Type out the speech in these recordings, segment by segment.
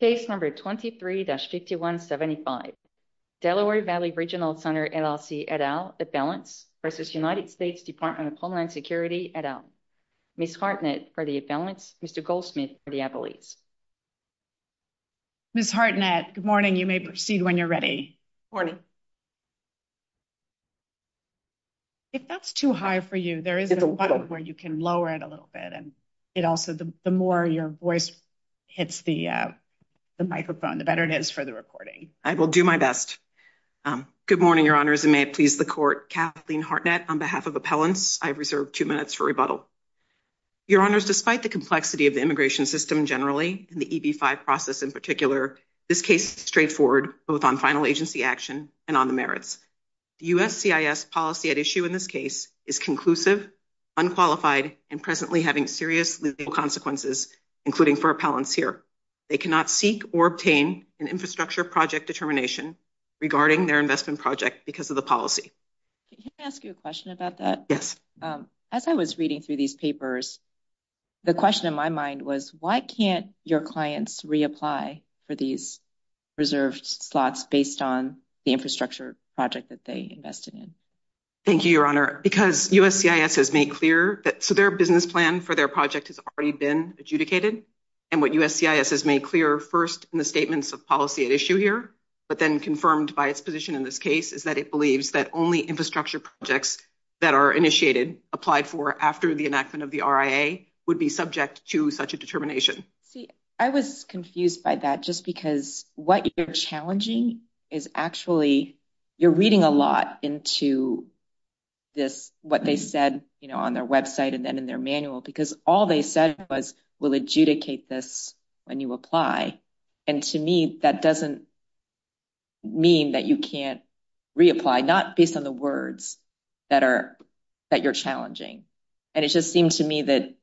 Page number 23-5175, Delaware Valley Regional Center, LLC, et al, at balance, versus United States Department of Homeland Security, et al. Ms. Hartnett for the balance, Mr. Goldsmith for the appellate. Ms. Hartnett, good morning. You may proceed when you're ready. Morning. If that's too high for you, there is a button where you can lower it a little bit. And it also, the more your voice hits the microphone, the better it is for the recording. I will do my best. Good morning, Your Honors, and may it please the Court. Kathleen Hartnett on behalf of appellants. I reserve two minutes for rebuttal. Your Honors, despite the complexity of the immigration system generally, and the EB-5 process in particular, this case is straightforward, both on final agency action and on the merits. The USCIS policy at issue in this case is conclusive, unqualified, and presently having serious legal consequences, including for appellants here. They cannot seek or obtain an infrastructure project determination regarding their investment project because of the policy. Can I ask you a question about that? Yes. As I was reading through these papers, the question in my mind was, why can't your clients reapply for these reserved slots based on the infrastructure project that they invested in? Thank you, Your Honor, because USCIS has made clear that their business plan for their project has already been adjudicated. And what USCIS has made clear first in the statements of policy at issue here, but then confirmed by its position in this case, is that it believes that only infrastructure projects that are initiated, applied for after the enactment of the RIA, would be subject to such a determination. I was confused by that, just because what you're challenging is actually, you're reading a lot into this, what they said, you know, on their website and then in their manual, because all they said was, we'll adjudicate this when you apply. And to me, that doesn't mean that you can't reapply, not based on the words that you're challenging. And it just seems to me that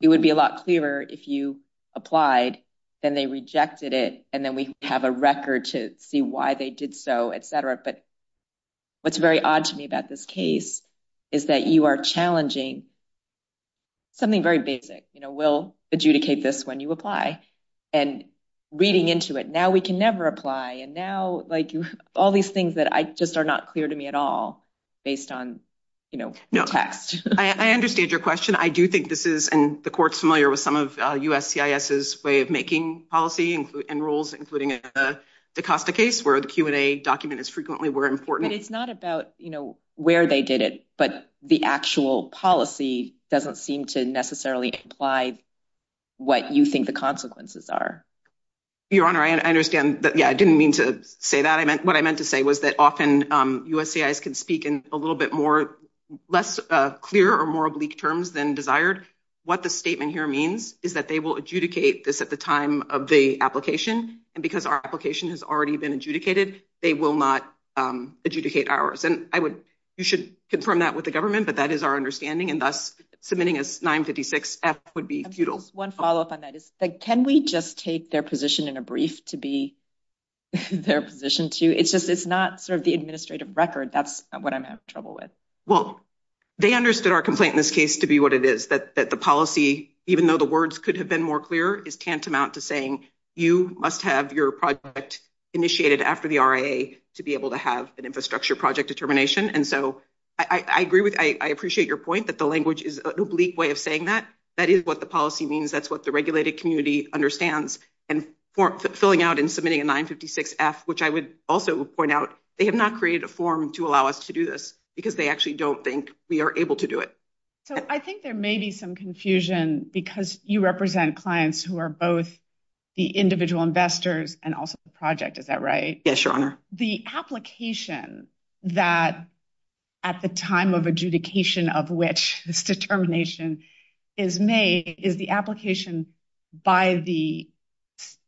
it would be a lot clearer if you applied and they rejected it, and then we have a record to see why they did so, et cetera. But what's very odd to me about this case is that you are challenging something very basic, you know, we'll adjudicate this when you apply and reading into it. I understand your question. I do think this is, and the court's familiar with some of USCIS's way of making policy and rules, including the Costa case, where the Q&A documents frequently were important. It's not about, you know, where they did it, but the actual policy doesn't seem to necessarily apply what you think the consequences are. Your Honor, I understand that, yeah, I didn't mean to say that. What I meant to say was that often USCIS can speak in a little bit more, less clear or more oblique terms than desired. What the statement here means is that they will adjudicate this at the time of the application, and because our application has already been adjudicated, they will not adjudicate ours. And I would, you should confirm that with the government, but that is our understanding, and thus submitting a 956-F would be futile. One follow-up on that is, can we just take their position in a brief to be their position too? It's just, it's not sort of the administrative record. That's what I'm having trouble with. Well, they understood our complaint in this case to be what it is, that the policy, even though the words could have been more clear, is tantamount to saying you must have your project initiated after the RIA to be able to have an infrastructure project determination. And so, I agree with, I appreciate your point, but the language is an oblique way of saying that. That is what the policy means. That's what the regulated community understands. And filling out and submitting a 956-F, which I would also point out, they have not created a form to allow us to do this because they actually don't think we are able to do it. So, I think there may be some confusion because you represent clients who are both the individual investors and also the project. Is that right? Yes, Your Honor. The application that, at the time of adjudication of which this determination is made, is the application by the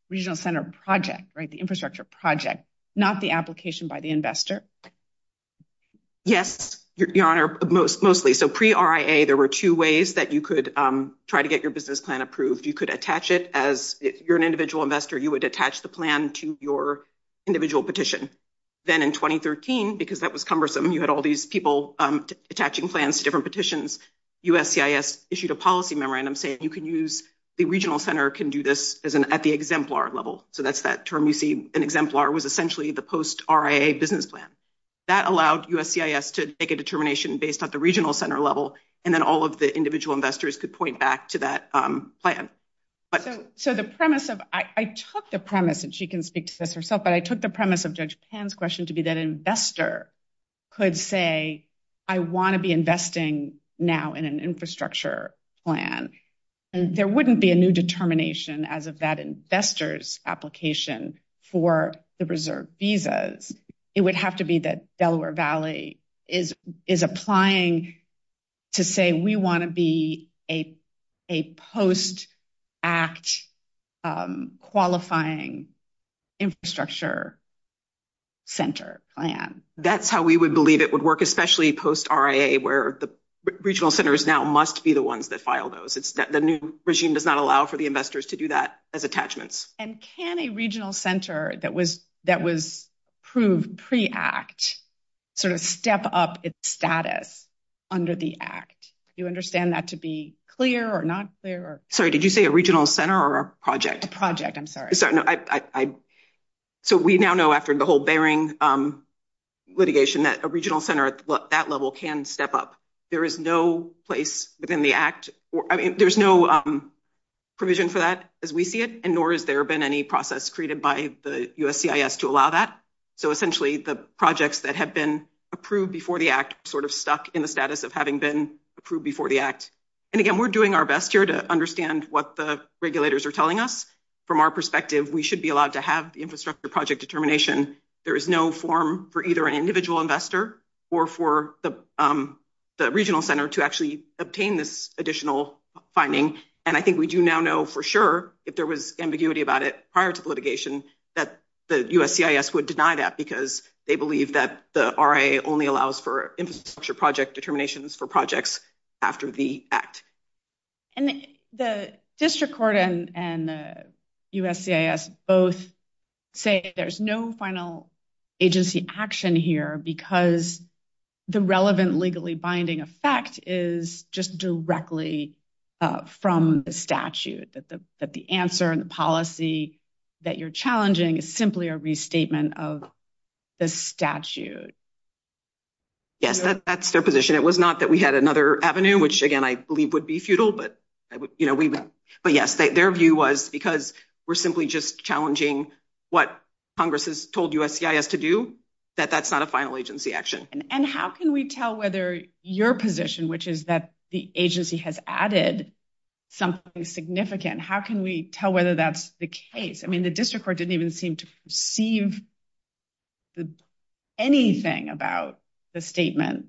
regional center project, right? The infrastructure project, not the application by the investor. Yes, Your Honor, mostly. So, pre-RIA, there were two ways that you could try to get your business plan approved. You could attach it as, if you're an individual investor, you would attach the plan to your individual petition. Then, in 2013, because that was cumbersome, you had all these people attaching plans to different petitions, USCIS issued a policy memorandum saying you can use, the regional center can do this at the exemplar level. So, that's that term you see. An exemplar was essentially the post-RIA business plan. That allowed USCIS to make a determination based on the regional center level, and then all of the individual investors could point back to that plan. So, the premise of, I took the premise, and she can speak to this herself, but I took the premise of Judge Pan's question to be that an investor could say, I want to be investing now in an infrastructure plan. And there wouldn't be a new determination as of that investor's application for the reserve visas. It would have to be that Delaware Valley is applying to say, we want to be a post-act qualifying infrastructure center plan. That's how we would believe it would work, especially post-RIA, where the regional centers now must be the ones that file those. The new regime does not allow for the investors to do that as attachments. And can a regional center that was approved pre-act sort of step up its status under the act? Do you understand that to be clear or not clear? Sorry, did you say a regional center or a project? A project, I'm sorry. So, we now know after the whole Bering litigation that a regional center at that level can step up. There is no place within the act, there's no provision for that as we see it, and nor has there been any process created by the USCIS to allow that. So, essentially, the projects that have been approved before the act sort of stuck in the status of having been approved before the act. And again, we're doing our best here to understand what the regulators are telling us. From our perspective, we should be allowed to have the infrastructure project determination. There is no form for either an individual investor or for the regional center to actually obtain this additional finding. And I think we do now know for sure that there was ambiguity about it prior to litigation that the USCIS would deny that because they believe that the RA only allows for infrastructure project determinations for projects after the act. And the district court and the USCIS both say there's no final agency action here because the relevant legally binding effect is just directly from the statute. That the answer and the policy that you're challenging is simply a restatement of the statute. Yes, that's their position. It was not that we had another avenue, which again, I believe would be futile. But, you know, we, but yes, their view was, because we're simply just challenging what Congress has told USCIS to do, that that's not a final agency action. And how can we tell whether your position, which is that the agency has added something significant, how can we tell whether that's the case? I mean, the district court didn't even seem to perceive any of that. Anything about the statement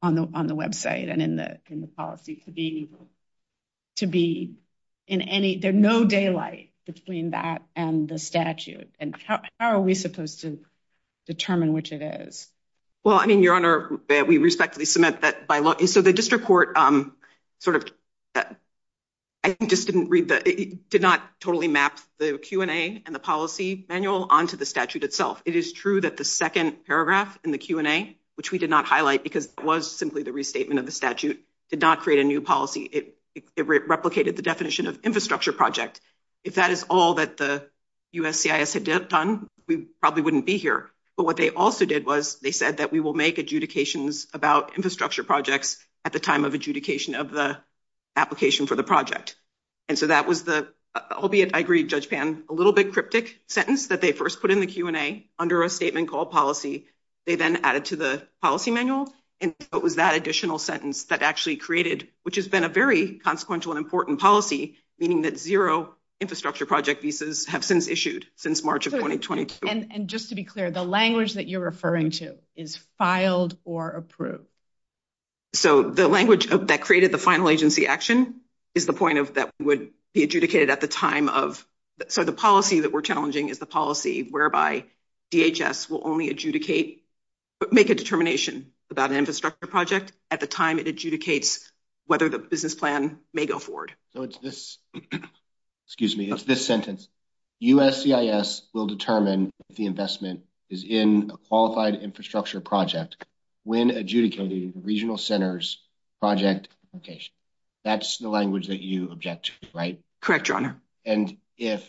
on the, on the website and in the policy to be, to be in any, there's no daylight between that and the statute and how are we supposed to determine which it is? Well, I mean, Your Honor, we respectfully submit that by law. So the district court sort of, I just didn't read that. It did not totally map the Q and A and the policy manual onto the statute itself. It is true that the second paragraph in the Q and A, which we did not highlight because it was simply the restatement of the statute, did not create a new policy. It replicated the definition of infrastructure project. If that is all that the USCIS had done, we probably wouldn't be here. But what they also did was they said that we will make adjudications about infrastructure projects at the time of adjudication of the application for the project. And so that was the, albeit, I agree, Judge Pann, a little bit cryptic sentence that they first put in the Q and A under a statement called policy. They then added to the policy manual. And it was that additional sentence that actually created, which has been a very consequential and important policy, meaning that zero infrastructure project visas have since issued since March of 2022. And just to be clear, the language that you're referring to is filed or approved. So, the language that created the final agency action is the point of that would be adjudicated at the time of, so the policy that we're challenging is the policy whereby DHS will only adjudicate, make a determination about an infrastructure project at the time it adjudicates whether the business plan may go forward. So, it's this, excuse me, it's this sentence USCIS will determine if the investment is in a qualified infrastructure project when adjudicating the regional centers project application. That's the language that you object to, right? Correct, your honor. And if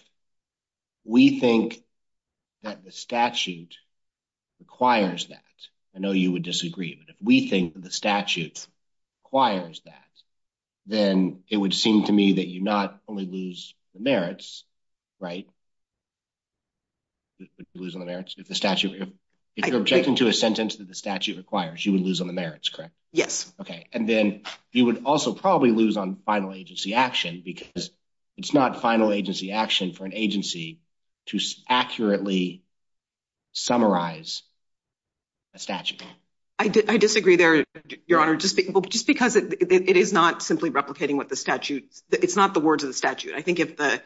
we think that the statute requires that, I know you would disagree, but if we think that the statute requires that, then it would seem to me that you not only lose the merits, right? Losing the merits of the statute, if you're objecting to a sentence that the statute requires, you would lose on the merits. Correct? Yes. Okay. And then you would also probably lose on final agency action because it's not final agency action for an agency to accurately summarize a statute. I disagree there, your honor, just because it is not simply replicating what the statute, it's not the words of the statute. I think if the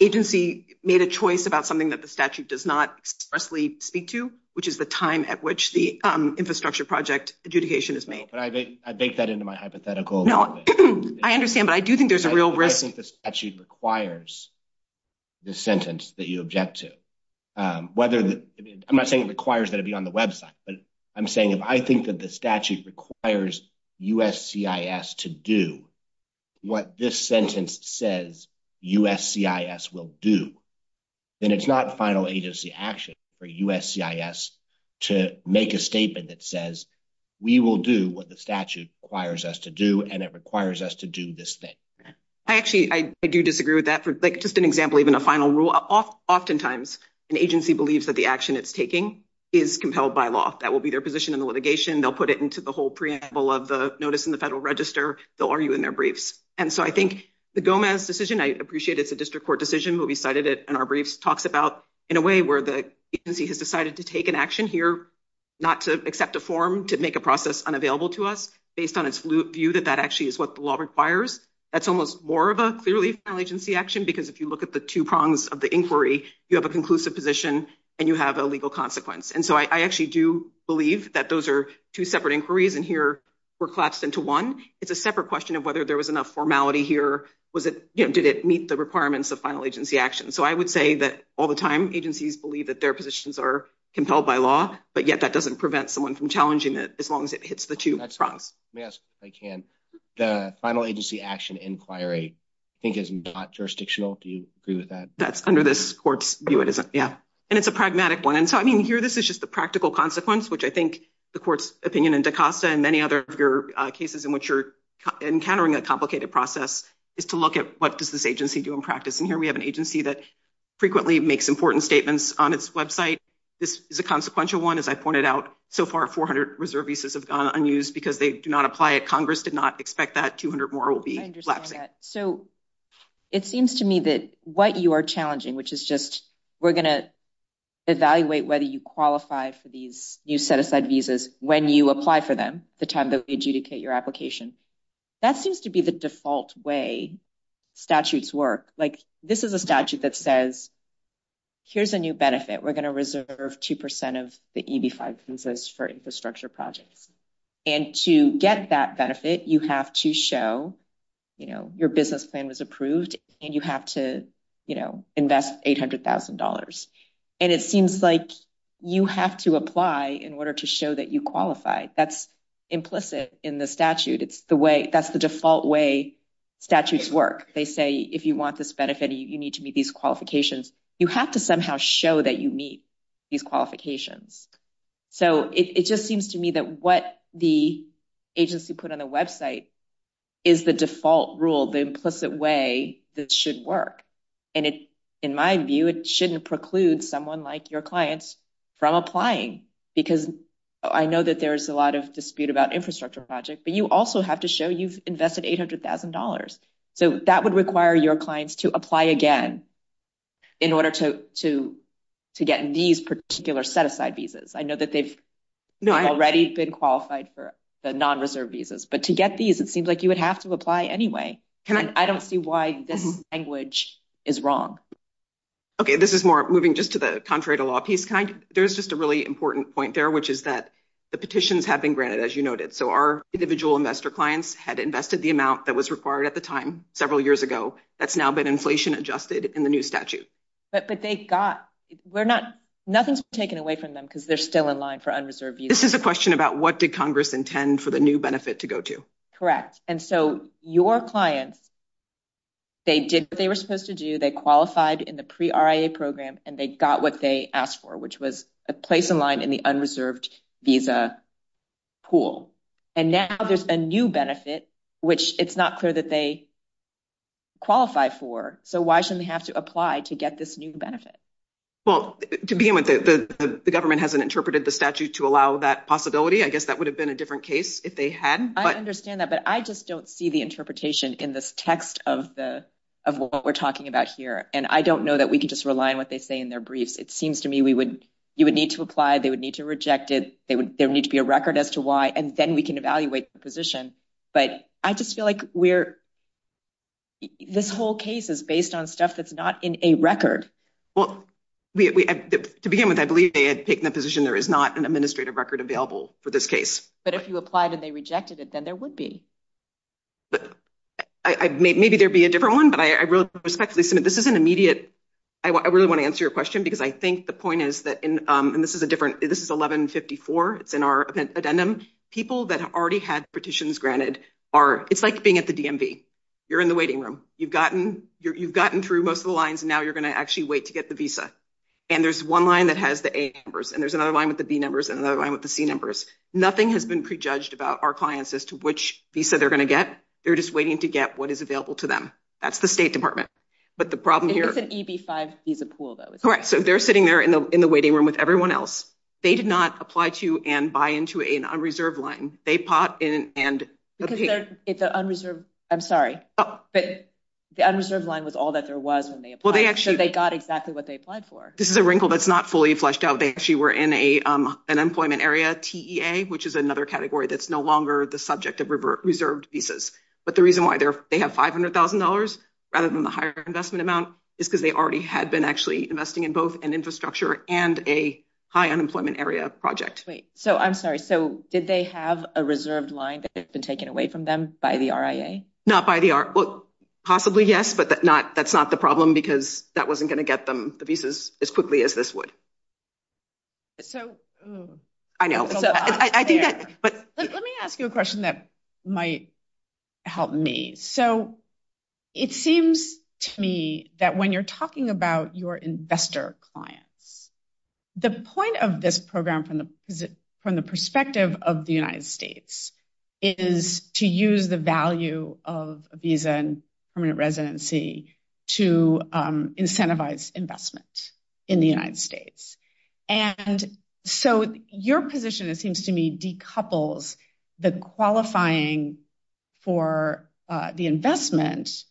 agency made a choice about something that the statute does not expressly speak to, which is the time at which the infrastructure project adjudication is made. I baked that into my hypothetical. No, I understand, but I do think there's a real risk. I think the statute requires the sentence that you object to. I'm not saying it requires that it be on the website, but I'm saying if I think that the statute requires USCIS to do what this sentence says USCIS will do, then it's not final agency action for USCIS to make a statement that says we will do what the statute requires us to do and it requires us to do this thing. I actually, I do disagree with that. Just an example, even a final rule, oftentimes an agency believes that the action it's taking is compelled by law. That will be their position in the litigation. They'll put it into the whole preamble of the notice in the federal register. They'll argue in their briefs. And so I think the Gomez decision, I appreciate it's a district court decision, but we cited it in our briefs talks about in a way where the agency has decided to take an action here, not to accept a form to make a process unavailable to us based on its view that that actually is what the law requires. That's almost more of a clearly final agency action, because if you look at the two prongs of the inquiry, you have a conclusive position and you have a legal consequence. And so I actually do believe that those are two separate inquiries and here we're collapsed into one. It's a separate question of whether there was enough formality here. Did it meet the requirements of final agency action? So I would say that all the time, agencies believe that their positions are compelled by law, but yet that doesn't prevent someone from challenging it as long as it hits the two prongs. Yes, I can. The final agency action inquiry, I think, is not jurisdictional. Do you agree with that? That's under this court's view. Yeah. And it's a pragmatic one. And so, I mean, here, this is just the practical consequence, which I think the court's opinion in DaCosta and many other cases in which you're encountering a complicated process is to look at what does this agency do in practice. And here we have an agency that frequently makes important statements on its website. This is a consequential one. As I pointed out, so far, 400 reserve visas have gone unused because they do not apply at Congress, did not expect that 200 more will be. So it seems to me that what you are challenging, which is just we're going to evaluate whether you qualify for these new set-aside visas when you apply for them, the time that we adjudicate your application. That seems to be the default way statutes work. Like, this is a statute that says, here's a new benefit. We're going to reserve 2% of the EB-5 visas for infrastructure projects. And to get that benefit, you have to show, you know, your business plan was approved and you have to, you know, invest $800,000. And it seems like you have to apply in order to show that you qualify. That's implicit in the statute. It's the way, that's the default way statutes work. They say, if you want this benefit, you need to meet these qualifications. You have to somehow show that you meet these qualifications. So it just seems to me that what the agency put on the website is the default rule, the implicit way that should work. And in my view, it shouldn't preclude someone like your clients from applying because I know that there's a lot of dispute about infrastructure projects, but you also have to show you've invested $800,000. So that would require your clients to apply again in order to get these particular set-aside visas. I know that they've already been qualified for the non-reserved visas, but to get these, it seems like you would have to apply anyway. And I don't see why this language is wrong. Okay, this is more moving just to the Contrary to Law piece. There's just a really important point there, which is that the petitions have been granted, as you noted. So our individual investor clients had invested the amount that was required at the time, several years ago. That's now been inflation adjusted in the new statute. But they got, we're not, nothing's taken away from them because they're still in line for unreserved visas. This is a question about what did Congress intend for the new benefit to go to? Correct. And so your clients, they did what they were supposed to do. They qualified in the pre-RIA program and they got what they asked for, which was a place in line in the unreserved visa pool. And now there's a new benefit, which it's not clear that they qualify for. So why shouldn't they have to apply to get this new benefit? Well, to begin with, the government hasn't interpreted the statute to allow that possibility. I guess that would have been a different case if they had. I understand that, but I just don't see the interpretation in this text of what we're talking about here. And I don't know that we can just rely on what they say in their brief. It seems to me you would need to apply, they would need to reject it, there would need to be a record as to why, and then we can evaluate the position. But I just feel like we're, this whole case is based on stuff that's not in a record. Well, to begin with, I believe they had taken a position there is not an administrative record available for this case. But if you applied and they rejected it, then there would be. Maybe there'd be a different one, but I really respect this. This is an immediate, I really want to answer your question, because I think the point is that, and this is a different, this is 1154, it's in our addendum, people that already had petitions granted are, it's like being at the DMV, you're in the waiting room, you've gotten through most of the lines, and now you're going to actually wait to get the visa. And there's one line that has the A numbers, and there's another line with the B numbers, and another line with the C numbers. Nothing has been prejudged about our clients as to which visa they're going to get. They're just waiting to get what is available to them. That's the State Department. But the problem here. It's an EB-5 visa pool, though. Correct. So they're sitting there in the waiting room with everyone else. They did not apply to and buy into an unreserved line. They pop in and. It's an unreserved, I'm sorry, but the unreserved line was all that there was when they applied, so they got exactly what they applied for. This is a wrinkle that's not fully fleshed out. They actually were in an employment area, TEA, which is another category that's no longer the subject of reserved visas. But the reason why they have $500,000, rather than the higher investment amount, is because they already had been actually investing in both an infrastructure and a high unemployment area project. I'm sorry, so did they have a reserved line that had been taken away from them by the RIA? Not by the RIA. Possibly, yes, but that's not the problem because that wasn't going to get them the visas as quickly as this would. I know. Let me ask you a question that might help me. So it seems to me that when you're talking about your investor clients, the point of this program from the perspective of the United States is to use the value of a visa and permanent residency to incentivize investments in the United States. And so your position, it seems to me, decouples the qualifying for the investment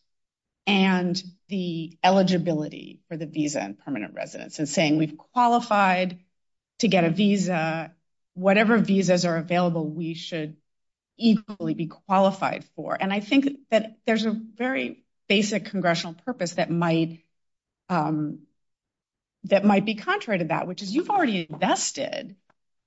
and the eligibility for the visa and permanent residence and saying we've qualified to get a visa, whatever visas are available, we should equally be qualified for. And I think that there's a very basic congressional purpose that might be contrary to that, which is you've already invested.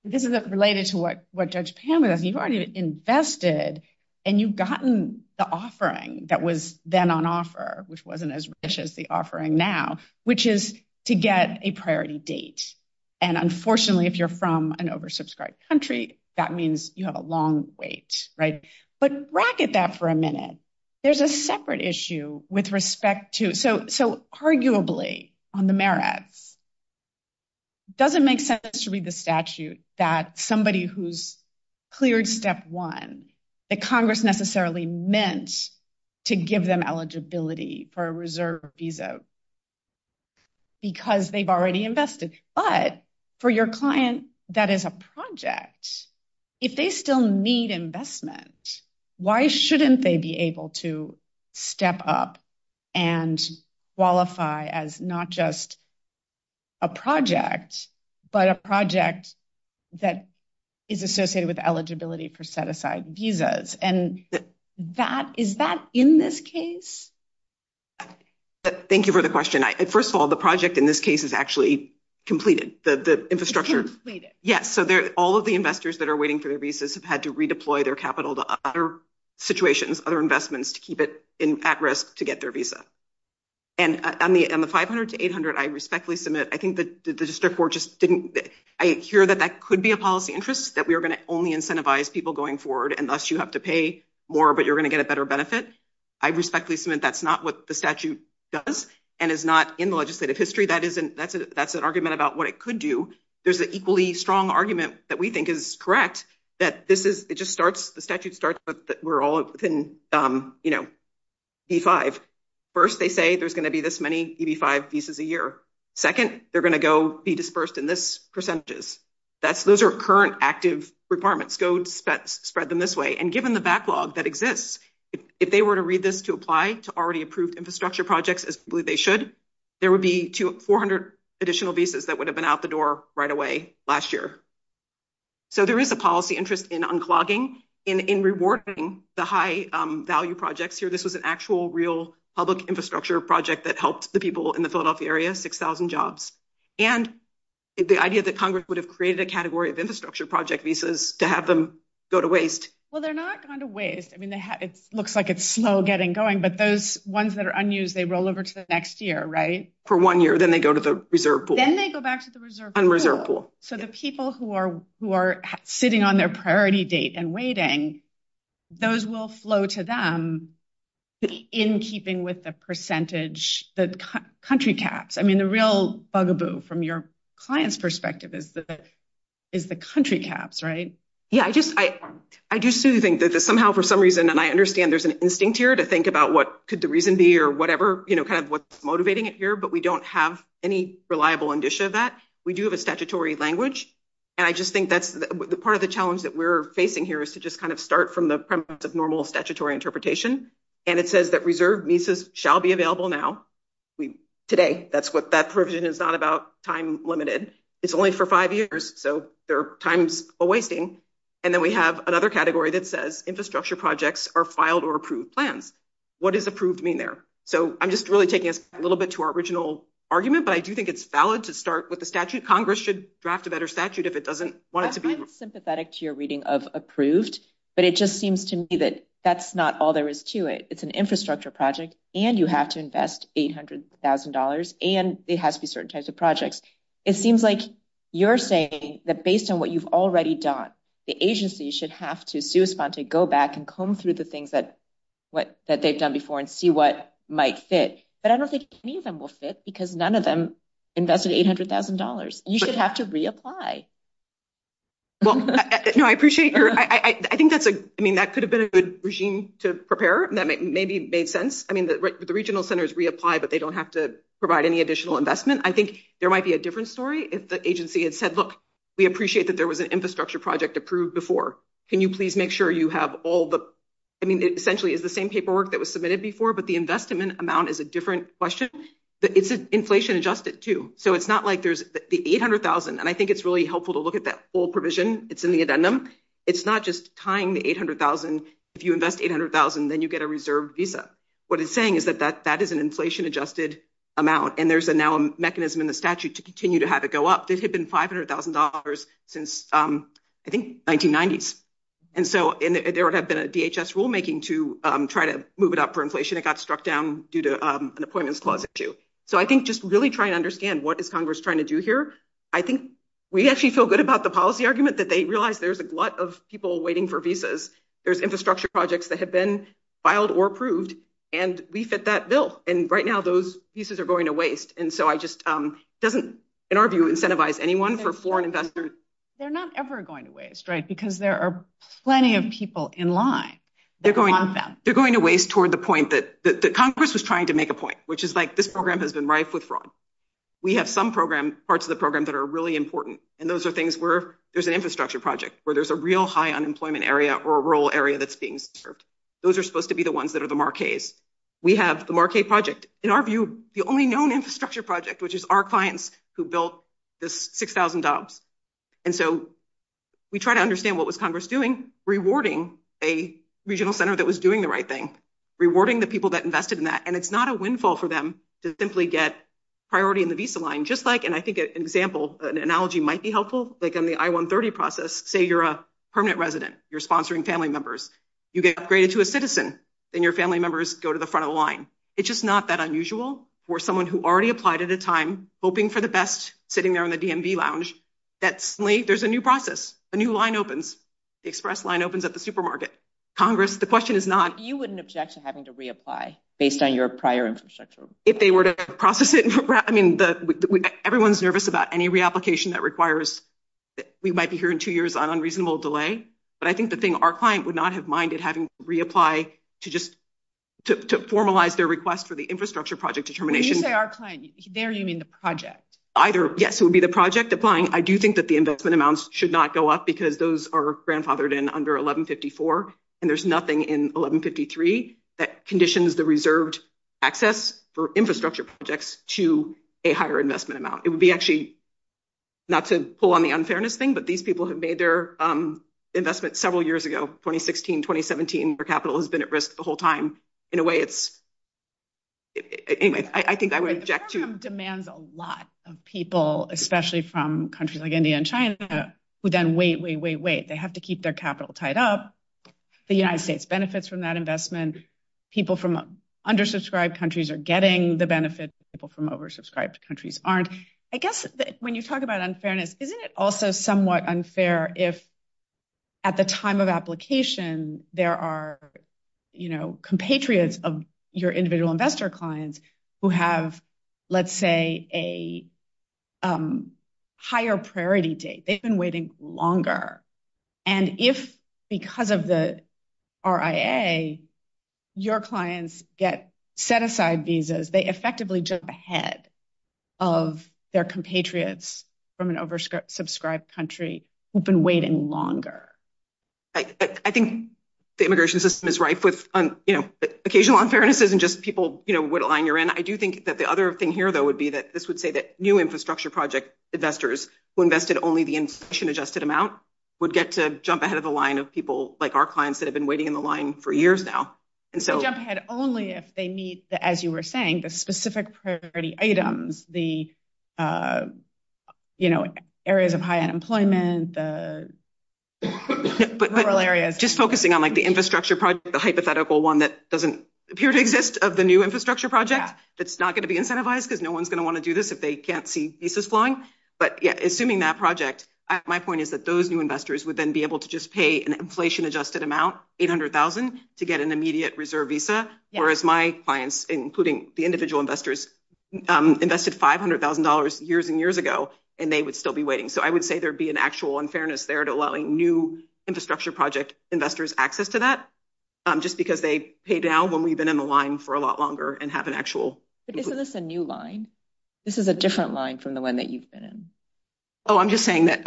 This is related to what Judge Pamela said. You've already invested and you've gotten the offering that was then on offer, which wasn't as rich as the offering now, which is to get a priority date. And unfortunately, if you're from an oversubscribed country, that means you have a long wait. But racket that for a minute. There's a separate issue with respect to – so arguably on the merits, it doesn't make sense to read the statute that somebody who's cleared step one, that Congress necessarily meant to give them eligibility for a reserve visa because they've already invested. But for your client that is a project, if they still need investment, why shouldn't they be able to step up and qualify as not just a project, but a project that is associated with eligibility for set-aside visas? And is that in this case? Thank you for the question. First of all, the project in this case is actually completed. The infrastructure – Completed. Yes. So all of the investors that are waiting for their visas have had to redeploy their capital to other situations, other investments to keep it at risk to get their visa. And on the 500 to 800, I respectfully submit, I think that the district board just didn't – I hear that that could be a policy interest, that we are going to only incentivize people going forward, and thus you have to pay more, but you're going to get a better benefit. I respectfully submit that's not what the statute does, and is not in the legislative history. That's an argument about what it could do. There's an equally strong argument that we think is correct, that this is – it just starts – the statute starts with that we're all in, you know, E-5. First, they say there's going to be this many E-5 visas a year. Second, they're going to go be dispersed in this percentage. Those are current active requirements. Go spread them this way. And given the backlog that exists, if they were to read this to apply to already approved infrastructure projects as they should, there would be 400 additional visas that would have been out the door right away last year. So there is a policy interest in unclogging, in rewarding the high value projects here. This was an actual real public infrastructure project that helped the people in the Philadelphia area, 6,000 jobs. And the idea that Congress would have created a category of infrastructure project visas to have them go to waste. Well, they're not going to waste. I mean, it looks like it's slow getting going, but those ones that are unused, they roll over to the next year, right? For one year, then they go to the reserve pool. Then they go back to the reserve pool. And reserve pool. So the people who are sitting on their priority date and waiting, those will flow to them in keeping with the percentage, the country caps. I mean, the real bugaboo from your client's perspective is the country caps, right? Yeah, I just, I do still think that somehow for some reason, and I understand there's an instinct here to think about what could the reason be or whatever, you know, kind of what's motivating it here, but we don't have any reliable indicia of that. We do have a statutory language. And I just think that's part of the challenge that we're facing here is to just kind of start from the premise of normal statutory interpretation. And it says that reserved MISAs shall be available now. Today, that's what that provision is not about time limited. It's only for five years, so there are times of wasting. And then we have another category that says infrastructure projects are filed or approved plans. What does approved mean there? So I'm just really taking us a little bit to our original argument, but I do think it's valid to start with the statute. Congress should draft a better statute if it doesn't want it to be. I'm sympathetic to your reading of approved, but it just seems to me that that's not all there is to it. It's an infrastructure project, and you have to invest $800,000, and it has to be certain types of projects. It seems like you're saying that based on what you've already done, the agency should have to go back and comb through the things that they've done before and see what might fit. But I don't think any of them will fit because none of them invested $800,000. You should have to reapply. I think that could have been a good regime to prepare, and that maybe made sense. I mean, the regional centers reapply, but they don't have to provide any additional investment. I think there might be a different story if the agency had said, look, we appreciate that there was an infrastructure project approved before. Can you please make sure you have all the – I mean, essentially, it's the same paperwork that was submitted before, but the investment amount is a different question. It's inflation adjusted, too, so it's not like there's the $800,000, and I think it's really helpful to look at that full provision. It's in the addendum. It's not just tying the $800,000. If you invest $800,000, then you get a reserve visa. What it's saying is that that is an inflation-adjusted amount, and there's now a mechanism in the statute to continue to have it go up. This had been $500,000 since, I think, the 1990s, and so there would have been a DHS rulemaking to try to move it up for inflation. It got struck down due to an appointments clause issue. So I think just really try to understand what is Congress trying to do here. I think we actually feel good about the policy argument that they realize there's a lot of people waiting for visas. There's infrastructure projects that have been filed or approved, and we fit that bill. Right now, those visas are going to waste, and so it doesn't, in our view, incentivize anyone for foreign investment. They're not ever going to waste, right, because there are plenty of people in line that want them. They're going to waste toward the point that Congress is trying to make a point, which is this program has been rife with fraud. We have some parts of the program that are really important, and those are things where there's an infrastructure project, where there's a real high unemployment area or a rural area that's being served. Those are supposed to be the ones that are the marquees. We have the marquee project, in our view, the only known infrastructure project, which is our clients who built this $6,000. And so we try to understand what was Congress doing, rewarding a regional center that was doing the right thing, rewarding the people that invested in that, and it's not a windfall for them to simply get priority in the visa line. Just like, and I think an example, an analogy might be helpful, like in the I-130 process, say you're a permanent resident, you're sponsoring family members, you get upgraded to a citizen, then your family members go to the front of the line. It's just not that unusual for someone who already applied at a time, hoping for the best, sitting there in the DMV lounge, that suddenly there's a new process, a new line opens, the express line opens at the supermarket. Congress, the question is not— You wouldn't object to having to reapply based on your prior infrastructure? If they were to process it, I mean, everyone's nervous about any reapplication that requires— we might be hearing two years on unreasonable delay, but I think the thing our client would not have minded having to reapply to formalize their request for the infrastructure project determination— When you say our client, there you mean the project? Either, yes, it would be the project applying. I do think that the investment amounts should not go up because those are grandfathered in under 1154, and there's nothing in 1153 that conditions the reserved access for infrastructure projects to a higher investment amount. It would be actually—not to pull on the unfairness thing, but these people have made their investment several years ago, 2016, 2017, their capital has been at risk the whole time. In a way, it's—anyway, I think I would object to— The program demands a lot of people, especially from countries like India and China, who then wait, wait, wait, wait. They have to keep their capital tied up. The United States benefits from that investment. People from undersubscribed countries are getting the benefits. People from oversubscribed countries aren't. I guess when you talk about unfairness, isn't it also somewhat unfair if at the time of application, there are compatriots of your individual investor client who have, let's say, a higher priority date? They've been waiting longer. And if, because of the RIA, your clients get set-aside visas, they effectively jump ahead of their compatriots from an oversubscribed country who've been waiting longer. I think the immigration system is rife with, you know, occasional unfairnesses and just people, you know, what line you're in. I do think that the other thing here, though, would be that this would say that new infrastructure project investors who invested only the institution-adjusted amount would get to jump ahead of a line of people like our clients that have been waiting in the line for years now. Jump ahead only if they meet, as you were saying, the specific priority items, the, you know, areas of high unemployment, the rural areas. But just focusing on, like, the infrastructure project, the hypothetical one that doesn't appear to exist of the new infrastructure project that's not going to be incentivized because no one's going to want to do this if they can't see visas flowing. But, yeah, assuming that project, my point is that those new investors would then be able to just pay an inflation-adjusted amount, $800,000, to get an immediate reserve visa. Whereas my clients, including the individual investors, invested $500,000 years and years ago, and they would still be waiting. So I would say there'd be an actual unfairness there to allowing new infrastructure project investors access to that just because they pay down when we've been in the line for a lot longer and have an actual... But isn't this a new line? This is a different line from the one that you've been in. Oh, I'm just saying that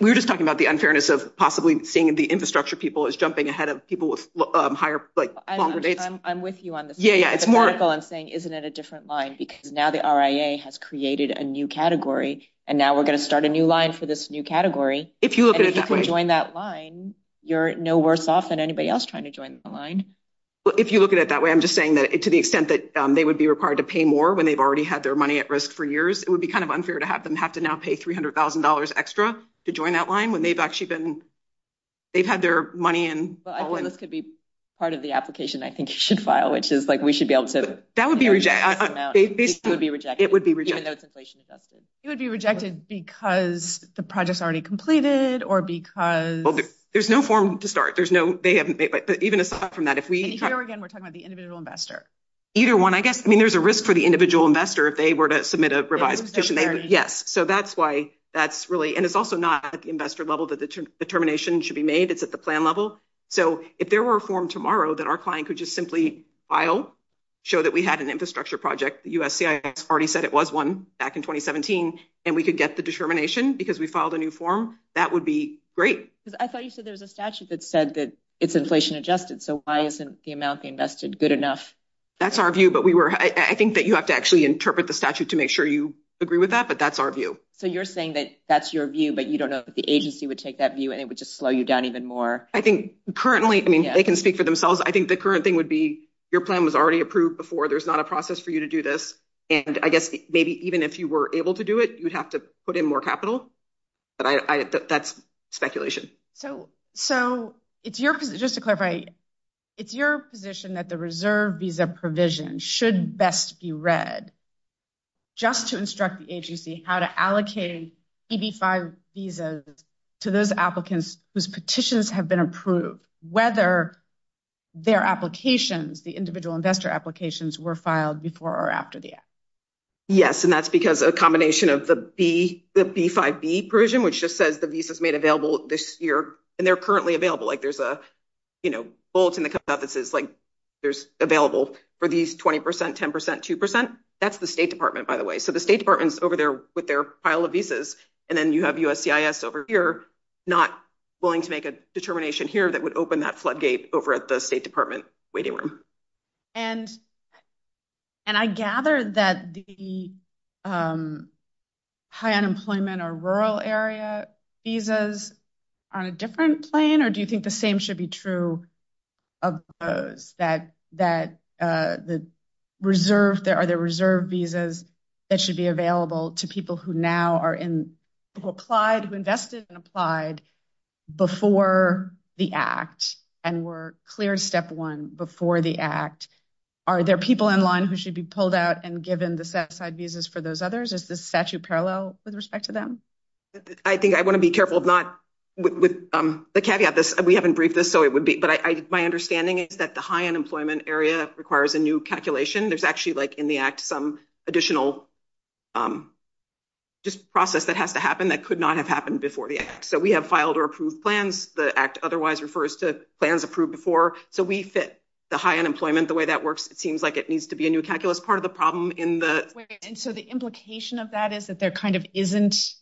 we were just talking about the unfairness of possibly seeing the infrastructure people as jumping ahead of people with higher, like, longer days. I'm with you on this. Yeah, yeah, it's more... I'm saying, isn't it a different line? Because now the RIA has created a new category, and now we're going to start a new line for this new category. If you look at it that way... If you look at it that way, I'm just saying that to the extent that they would be required to pay more when they've already had their money at risk for years, it would be kind of unfair to have them have to now pay $300,000 extra to join that line when they've actually been... They've had their money in... This could be part of the application I think you should file, which is, like, we should be able to... That would be rejected. It would be rejected. It would be rejected. There's no form to start. Even aside from that, if we... Here again, we're talking about the individual investor. Either one, I guess. I mean, there's a risk for the individual investor if they were to submit a revised application. There is. Yes, so that's why that's really... And it's also not at the investor level that the determination should be made. It's at the plan level. So if there were a form tomorrow that our client could just simply file, show that we had an infrastructure project, the USCIS already said it was one back in 2017, and we could get the determination because we filed a new form, that would be great. I thought you said there's a statute that said that it's inflation adjusted, so why isn't the amount they invested good enough? That's our view, but we were... I think that you have to actually interpret the statute to make sure you agree with that, but that's our view. So you're saying that that's your view, but you don't know if the agency would take that view and it would just slow you down even more? I think currently, I mean, they can speak for themselves. I think the current thing would be your plan was already approved before. There's not a process for you to do this. And I guess maybe even if you were able to do it, you'd have to put in more capital. That's speculation. So just to clarify, it's your position that the reserve visa provision should best be read just to instruct the agency how to allocate EB-5 visas to those applicants whose petitions have been approved, whether their applications, the individual investor applications, were filed before or after the act? Yes, and that's because a combination of the B-5B provision, which just says the visa's made available this year, and they're currently available. There's a bullet in the cut-off that says there's available for these 20%, 10%, 2%. That's the State Department, by the way. So the State Department's over there with their file of visas, and then you have USCIS over here not willing to make a determination here that would open that floodgate over at the State Department waiting room. And I gather that the high unemployment or rural area visas are on a different plane, or do you think the same should be true of those, that there are the reserve visas that should be available to people who invested and applied before the act and were cleared step one before the act? Are there people in line who should be pulled out and given the set-aside visas for those others? Is this statute parallel with respect to them? I think I want to be careful of not, with the caveat, we haven't briefed this, so it would be, but my understanding is that the high unemployment area requires a new calculation. There's actually like in the act some additional process that has to happen that could not have happened before the act. So we have filed or approved plans. The act otherwise refers to plans approved before. So we fit the high unemployment, the way that works, it seems like it needs to be a new calculus part of the problem. And so the implication of that is that there kind of isn't,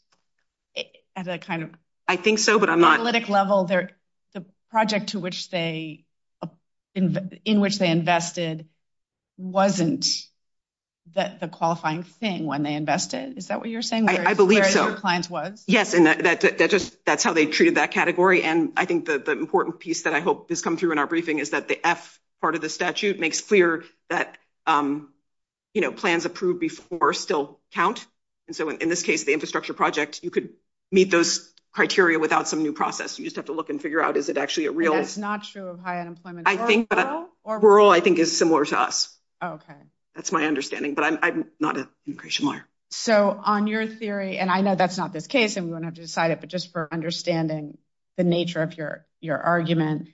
at a kind of analytic level, the project in which they invested wasn't the qualifying thing when they invested. Is that what you're saying? I believe so. Where your clients was? Yes, and that's how they treated that category. And I think the important piece that I hope this comes through in our briefing is that the F part of the statute makes clear that, you know, plans approved before still count. And so in this case, the infrastructure project, you could meet those criteria without some new process. You just have to look and figure out, is it actually a real. It's not true of high unemployment. I think, but rural, I think is similar to us. Okay. That's my understanding, but I'm not. So on your theory, and I know that's not the case. I'm going to have to decide it, but just for understanding the nature of your, your argument.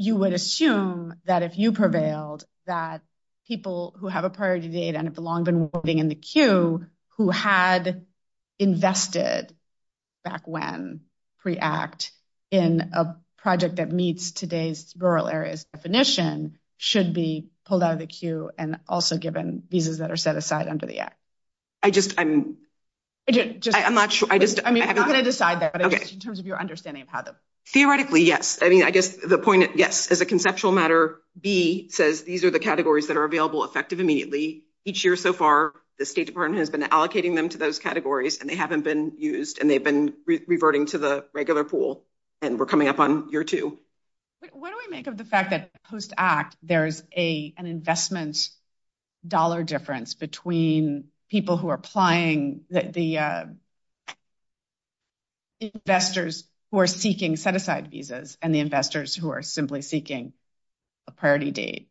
You would assume that if you prevailed that people who have a priority data and have long been working in the queue who had invested. Back when pre act in a project that meets today's rural areas. Definition should be pulled out of the queue and also given visas that are set aside under the act. I just, I'm. I'm not sure. I just, I mean, I'm going to decide that in terms of your understanding of how to theoretically. Yes. I mean, I guess the point. Yes. As a conceptual matter, B says these are the categories that are available effective immediately each year. So far, the state department has been allocating them to those categories and they haven't been used and they've been reverting to the regular pool. And we're coming up on your two. What do I make of the fact that post act there's a, An investment dollar difference between people who are applying that the. Investors who are seeking set aside visas and the investors who are simply seeking. A priority date.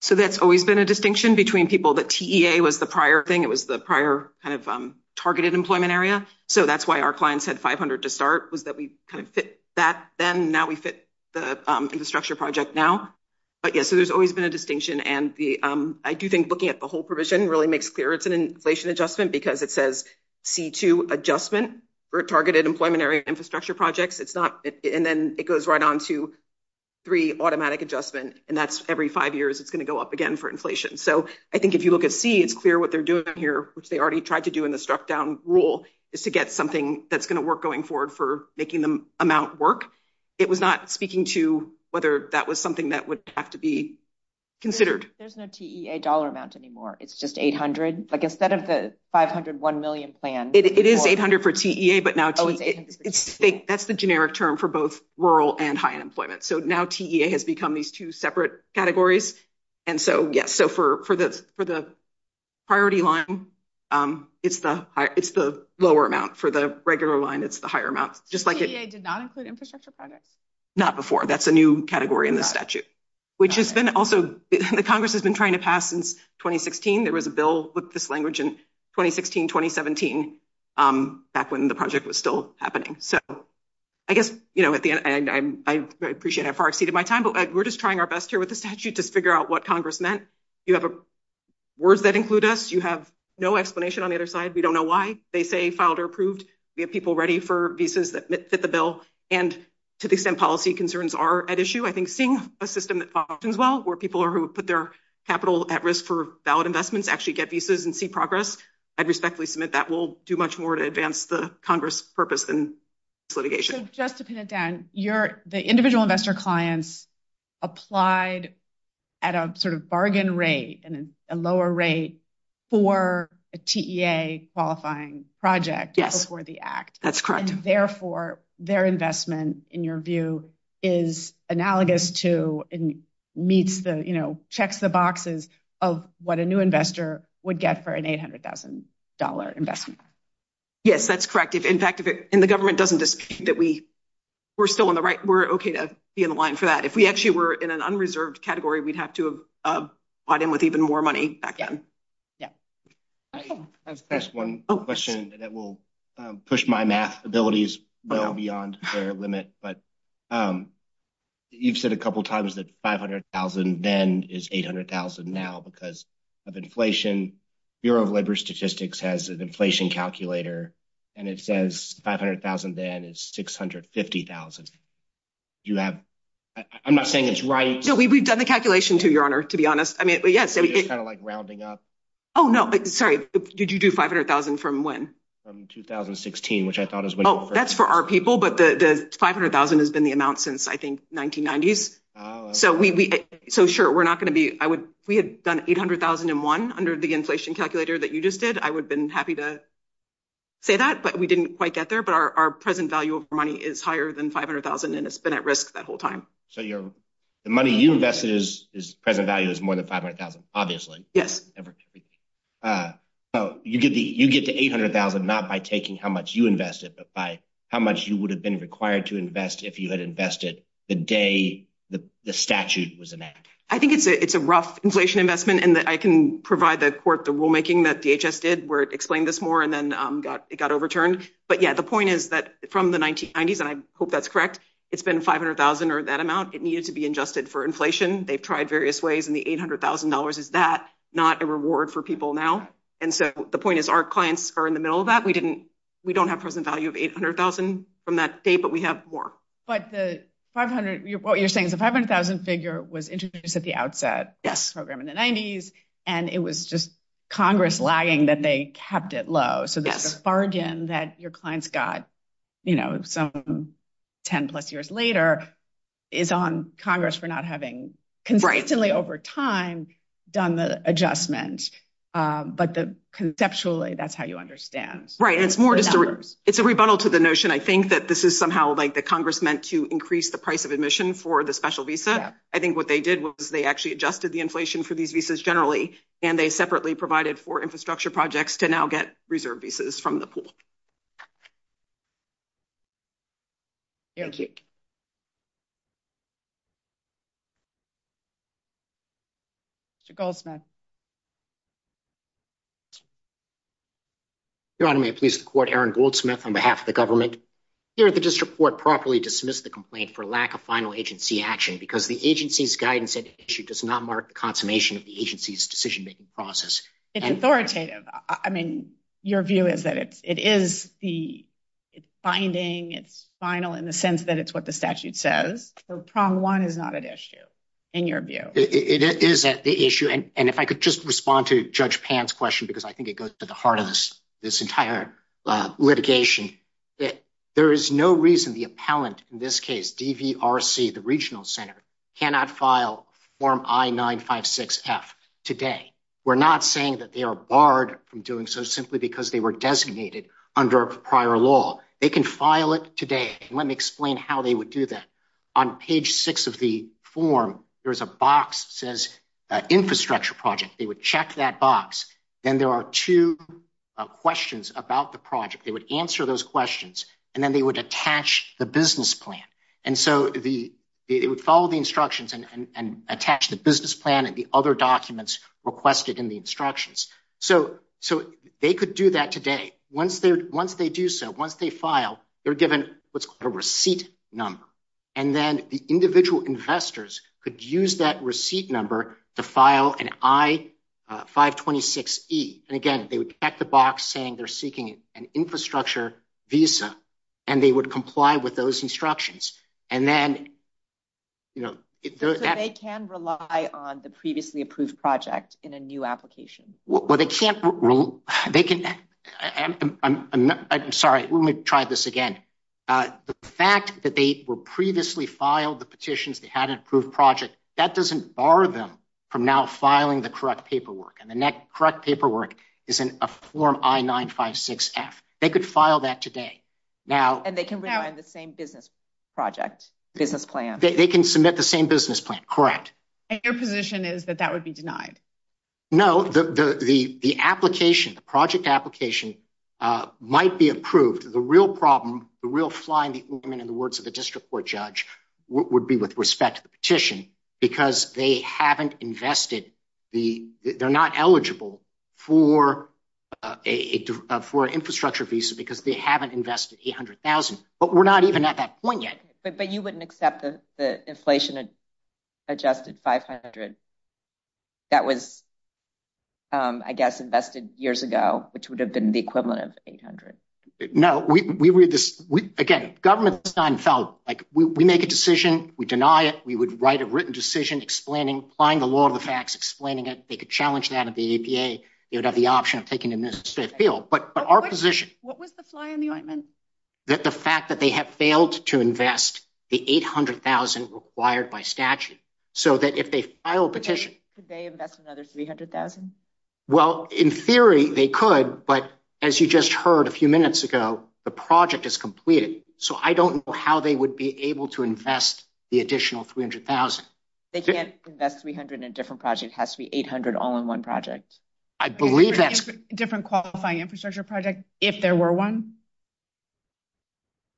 So that's always been a distinction between people that was the prior thing. It was the prior kind of targeted employment area. So that's why our clients had 500 to start was that we kind of fit that. Then now we fit the infrastructure project now. But yeah, so there's always been a distinction and the, I do think looking at the whole provision really makes clear. It's an inflation adjustment because it says C2 adjustment. We're targeted employment area infrastructure projects. It's not. And then it goes right on to. Three automatic adjustment and that's every five years. It's going to go up again for inflation. So I think if you look at C is clear what they're doing here, which they already tried to do in the struck down rule is to get something that's going to work going forward for making them amount work. It was not speaking to whether that was something that would have to be considered. There's no T a dollar amount anymore. It's just 800. Like instead of the 501 million plan, it is 800 per TDA, but now. That's the generic term for both rural and high unemployment. So now TDA has become these two separate categories. And so, yes. So for, for the, for the. Priority line. It's the, it's the lower amount for the regular line. It's the higher amount, just like it did not include infrastructure. Not before that's a new category in the statute. Which has been also the Congress has been trying to pass since 2016. There was a bill with this language in 2016, 2017. Back when the project was still happening. So. I guess, you know, at the end, I appreciate it. I far exceeded my time, but we're just trying our best here with the statute. Just figure out what Congress meant. You have a. Words that include us. You have no explanation on the other side. We don't know why they say founder approved. We have people ready for visas that fit the bill. And to the extent policy concerns are at issue. I think seeing a system that functions well where people are who put their. Capital at risk for valid investments, actually get visas and see progress. I'd respectfully submit that we'll do much more to advance the Congress. Purpose and. So just to pin it down, you're the individual investor clients. Applied. At a sort of bargain rate and a lower rate. For a TDA qualifying project. That's correct. Therefore their investment in your view. Is analogous to. Meets the, you know, checks the boxes of what a new investor would get for an 800,000 dollar investment. Yes, that's correct. If in fact, if it in the government, doesn't that. We were still on the right. We're okay to be in line for that. If we actually were in an unreserved category, we'd have to have bought in with even more money again. Yeah. That's one question that will push my math abilities. Well, beyond their limit, but. You've said a couple of times that 500,000 then is 800,000. Now, because of inflation. Bureau of labor statistics has an inflation calculator. And it says 500,000, then it's 650,000. You have, I'm not saying it's right. No, we've, we've done the calculation to your honor, to be honest. I mean, yes. Kind of like rounding up. Oh, no, sorry. Did you do 500,000 from when? 2016, which I thought as well. That's for our people, but the 500,000 has been the announced since I think 1990s. So we, so sure. We're not going to be, I would, we had done 800,001 under the inflation calculator that you just did. I would have been happy to. Say that, but we didn't quite get there, but our present value of money is higher than 500,000. And it's been at risk that whole time. So you're the money you invested is present value is more than 500,000. Obviously. Yes. Oh, you get the, you get the 800,000. Not by taking how much you invested, but by how much you would have been required to invest if you had invested the day. The statute was an act. I think it's a, it's a rough inflation investment and that I can provide that court, the rulemaking that DHS did were explained this more. And then it got overturned, but yeah, the point is that from the 1990s and I hope that's correct. It's been 500,000 or that amount it needed to be adjusted for inflation. They've tried various ways in the $800,000. Is that not a reward for people now? And so the point is our clients are in the middle of that. We didn't, we don't have present value of 800,000 from that state, but we have more. But the 500, what you're saying is the 500,000 figure was introduced at the outset program in the nineties. And it was just Congress lagging that they kept it low. So that's a bargain that your clients got, you know, some 10 plus years later is on Congress for not having consistently over time done the adjustment. But the conceptually that's how you understand. Right. It's more, it's a rebuttal to the notion. I think that this is somehow like the Congress meant to increase the price of admission for the special visa. I think what they did was they actually adjusted the inflation for these visas generally, and they separately provided for infrastructure projects to now get reserved visas from the pool. Please support Aaron Goldsmith on behalf of the government. If you just report properly, dismiss the complaint for lack of final agency action, because the agency's guidance issue does not mark the consummation of the decision process. It's authoritative. I mean, your view is that it's, it is the binding it's final in the sense that it's what the statute says. So problem one is not an issue in your view. It is that the issue. And if I could just respond to judge pants question, because I think it goes to the heart of this, this entire litigation that there is no reason the appellant in this case, DVRC, the regional center cannot file form I nine five, six F today. We're not saying that they are barred from doing so simply because they were designated under prior law. They can file it today. Let me explain how they would do that on page six of the form. There's a box says infrastructure project. They would check that box. Then there are two questions about the project. They would answer those questions and then they would attach the business plan. And so the, it would follow the instructions and attach the business plan and the other documents requested in the instructions. So, so they could do that today. Once they're, once they do so, once they file, they're given a receipt number, and then the individual investors could use that receipt number to file an I five 26 E. And again, they would check the box saying they're seeking an infrastructure visa and they would comply with those instructions. And then, you know, they can rely on the previously approved project in a new application. Well, they can't rule. They can. I'm sorry. Let me try this again. The fact that they were previously filed the petitions, they had an approved project that doesn't bar them from now filing the correct paperwork. And the next correct paperwork is in a form. I nine five, six F they could file that today. Now, and they can rely on the same business project, business plan. They can submit the same business plan. Correct. And your position is that that would be denied. No, the, the, the application, the project application might be approved. The real problem, the real flying in the words of the district court judge would be with respect to the petition because they haven't invested the, they're not eligible for a, for an infrastructure visa because they haven't invested 800,000, but we're not even at that point yet, but you wouldn't accept the inflation adjusted 500. That was, I guess, invested years ago, which would have been the equivalent of 800. No, we, we, we just, we, again, government design felt like we make a decision. We deny it. We would write a written decision explaining, find the law of the facts, explaining it. And if they could challenge that at the EPA, it would have the option of taking the necessary field, but our position, what was the fly on the ointment? The fact that they have failed to invest the 800,000 required by statute. So that if they filed the petition, that's another 300,000. Well, in theory they could, but as you just heard a few minutes ago, the project is completed. So I don't know how they would be able to invest the additional 300,000. They can't invest 300 in different projects. It has to be 800 all in one project. I believe that's a different qualifying infrastructure project. If there were one,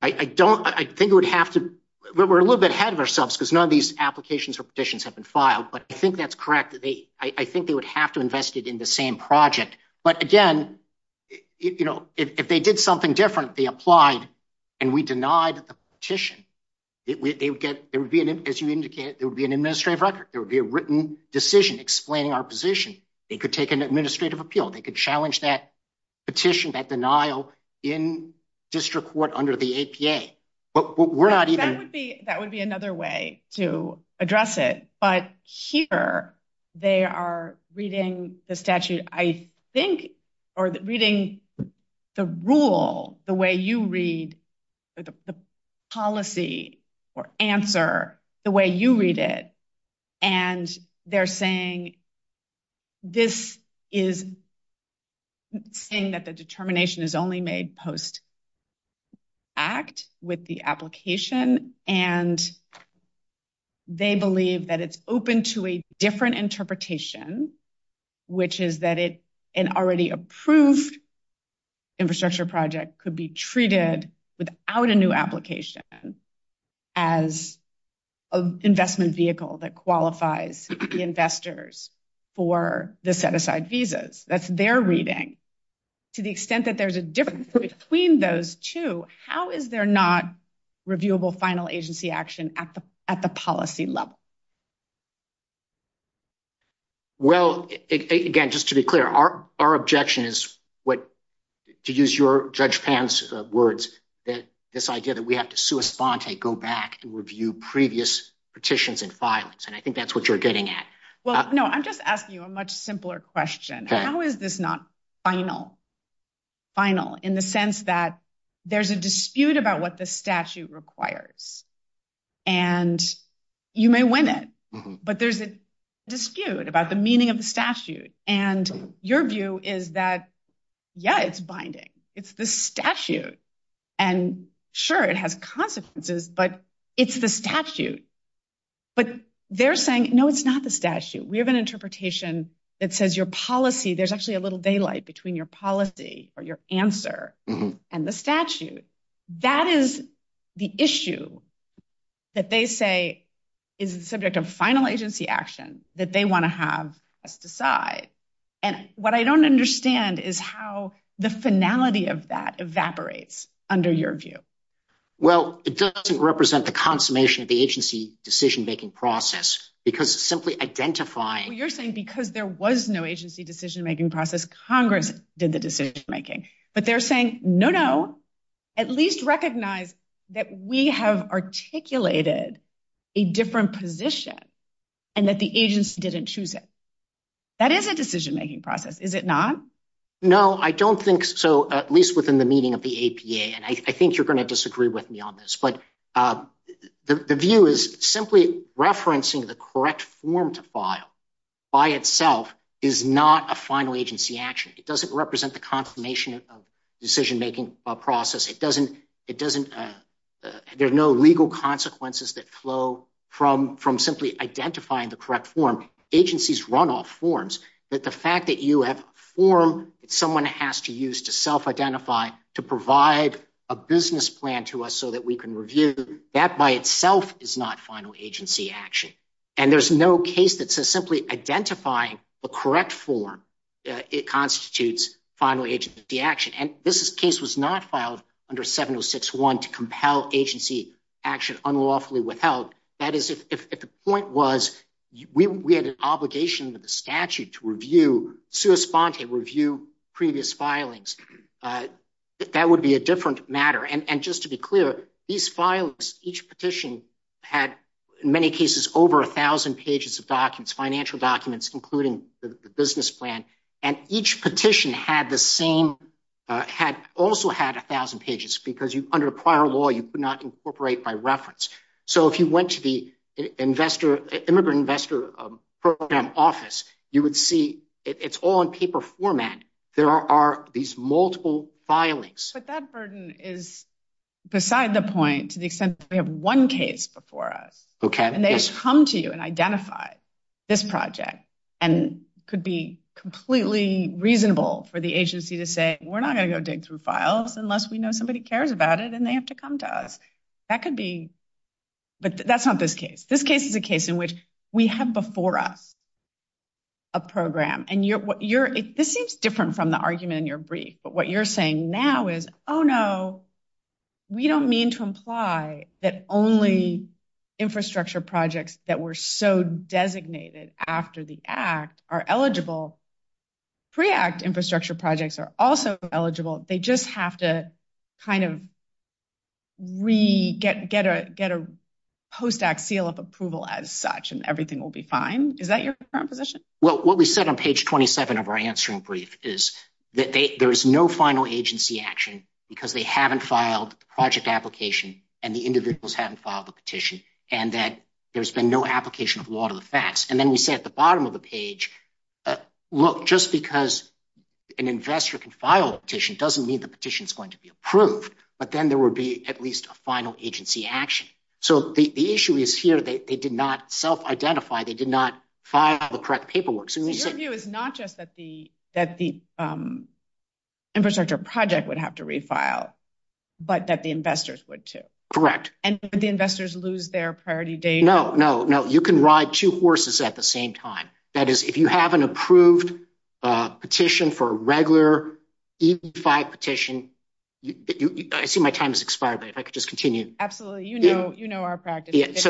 I don't, I think it would have to, we're a little bit ahead of ourselves because none of these applications or petitions have been filed, but I think that's correct. They, I think they would have to invest it in the same project, but again, you know, if they did something different, they applied and we denied the petition. As you indicated, there would be an administrative record. There would be a written decision explaining our position. They could take an administrative appeal. They could challenge that petition, that denial in district court under the APA, but we're not even. That would be another way to address it, but here they are reading the statute. I think, or reading the rule, the way you read the policy or answer the way you read it. And they're saying, this is saying that the determination is only made post act with the application. And they believe that it's open to a different interpretation, which is that it, an already approved infrastructure project could be treated without a new application as an investment vehicle that qualifies the investors for the set aside visas. That's their reading to the extent that there's a difference between those two. How is there not reviewable final agency action at the, at the policy level? Well, again, just to be clear, our, our objection is what to use your judge pants words, that this idea that we have to sue us, bond take, go back to review previous petitions and violence. And I think that's what you're getting at. Well, no, I'm just asking you a much simpler question. How is this not final final in the sense that there's a dispute about what the statute requires and you may win it, but there's a dispute about the meaning of the statute. And your view is that, yeah, it's binding. It's the statute and sure. It has consequences, but it's the statute, but they're saying, no, it's not the statute. We have an interpretation that says your policy, there's actually a little daylight between your policy or your answer and the statute. That is the issue that they say is the subject of final agency action that they want to have decide. And what I don't understand is how the finality of that evaporates under your view. Well, it doesn't represent the consummation of the agency decision-making process because simply identifying you're saying, because there was no agency decision-making process, Congress did the decision-making, but they're saying, no, at least recognize that we have articulated a different position and that the agency didn't choose it. That is a decision-making process. Is it not? No, I don't think so. At least within the meaning of the APA. And I think you're going to disagree with me on this, but the view is simply referencing the correct form to file by itself is not a final agency action. It doesn't represent the confirmation of decision-making process. It doesn't, it doesn't, there's no legal consequences that flow from, from simply identifying the correct form. Agencies run off forms that the fact that you have form, someone has to use to self-identify to provide a business plan to us so that we can review that by itself is not final agency action. And there's no case that says simply identifying the correct form. It constitutes final agency action. And this case was not filed under 706-1 to compel agency action unlawfully without. That is, if the point was we had an obligation with the statute to review, to respond to review previous filings, that would be a different matter. And just to be clear, these files, each petition had many cases over a thousand pages of documents, financial documents, including the business plan. And each petition had the same, had also had a thousand pages because you under prior law, you could not incorporate by reference. So if you went to the investor, immigrant investor program office, you would see it's all on paper format. There are these multiple filings. But that burden is beside the point to the extent that we have one case before us. And they just come to you and identify this project and could be completely reasonable for the agency to say, we're not going to go dig through files unless we know somebody cares about it and they have to come to us. That could be, but that's not this case. This case is a case in which we have before us a program and you're, what you're, this seems different from the argument in your brief, but what you're saying now is, Oh no, we don't mean to imply that only infrastructure projects that were so designated after the act are eligible. Pre-act infrastructure projects are also eligible. They just have to kind of re get, get a, get a post-act seal of approval as such and everything will be fine. Is that your current position? Well, what we said on page 27 of our answering brief is that there is no final agency action because they haven't filed the project application and the individuals haven't filed a petition and that there's been no application of law to the facts. And then we say at the bottom of the page, look, just because an investor can file a petition doesn't mean the petition is going to be approved, but then there will be at least a final agency action. So the issue is here. They did not self identify. They did not file the correct paperwork. Your view is not just that the, that the infrastructure project would have to refile, but that the investors would too. Correct. And the investors lose their priority date. No, no, no. You can ride two horses at the same time. That is if you have an approved petition for a regular E-5 petition, I see my time has expired, but if I could just continue. Absolutely. You know, you know, our practice.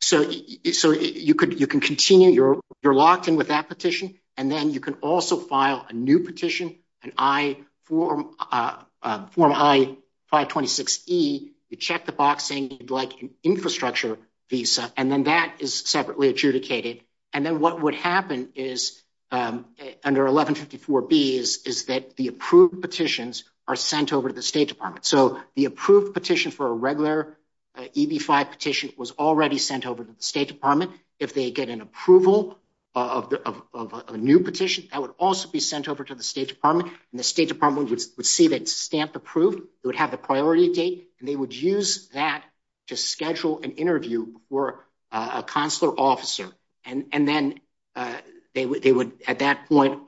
So you could, you can continue. You're you're locked in with that petition. And then you can also file a new petition. And I form a form I-526E, you check the box saying you'd like an infrastructure visa. And then that is separately adjudicated. And then what would happen is under 1154B is, is that the approved petitions are sent over to the state department. So the approved petition for a regular EB-5 petition was already sent over to the state department. If they get an approval of a new petition, that would also be sent over to the state department and the state department would receive a stamp approved. It would have the priority date and they would use that to schedule an interview for a consular officer. And then they would, they would at that point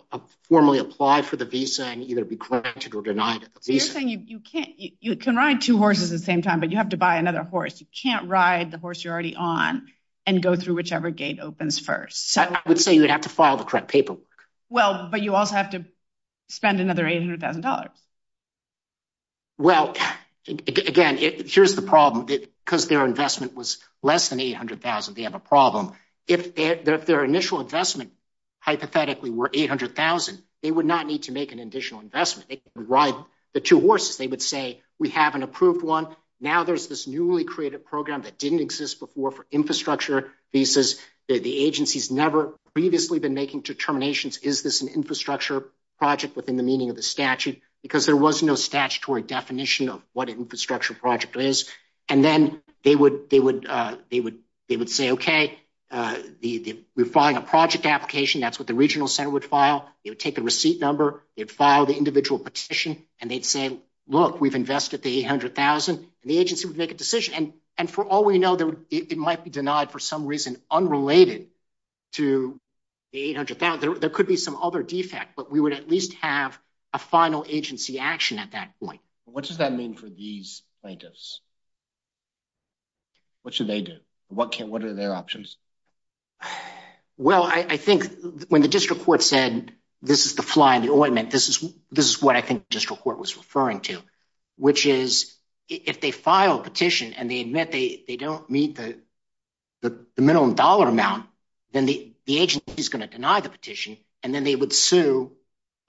formally apply for the visa and either be granted or granted. So you can ride two horses at the same time, but you have to buy another horse. You can't ride the horse you're already on and go through whichever gate opens first. I would say you would have to file the correct paperwork. Well, but you also have to spend another $800,000. Well, again, here's the problem because their investment was less than 800,000. They have a problem. If their initial investment hypothetically were 800,000, they would not need to make an additional investment. They would say, we have an approved one. Now there's this newly created program that didn't exist before for infrastructure visas. The agency's never previously been making determinations. Is this an infrastructure project within the meaning of the statute? Because there was no statutory definition of what an infrastructure project is. And then they would, they would, they would, they would say, okay. We find a project application. That's what the regional center would file. It would take a receipt number. They'd file the individual petition and they'd say, look, we've invested the 800,000 and the agency would make a decision. And for all we know, it might be denied for some reason unrelated to 800,000. There could be some other defects, but we would at least have a final agency action at that point. What does that mean for these plaintiffs? What should they do? What can, what are their options? Well, I think when the district court said, this is the fly on the ointment. This is, this is what I think district court was referring to, which is if they file a petition and they admit they don't meet the, the minimum dollar amount, then the agent is going to deny the petition. And then they would sue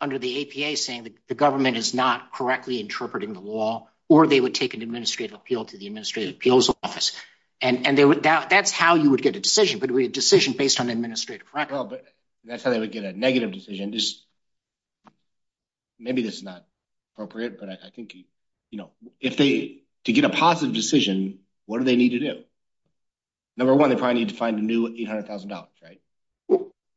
under the APA saying that the government is not correctly interpreting the law, or they would take an administrative appeal to the administrative appeals And, and they would doubt that's how you would get a decision, but it would be a decision based on administrative. Oh, but that's how they would get a negative decision. Maybe this is not appropriate, but I think, you know, if they could get a positive decision, what do they need to do? Number one, they probably need to find a new $800,000, right?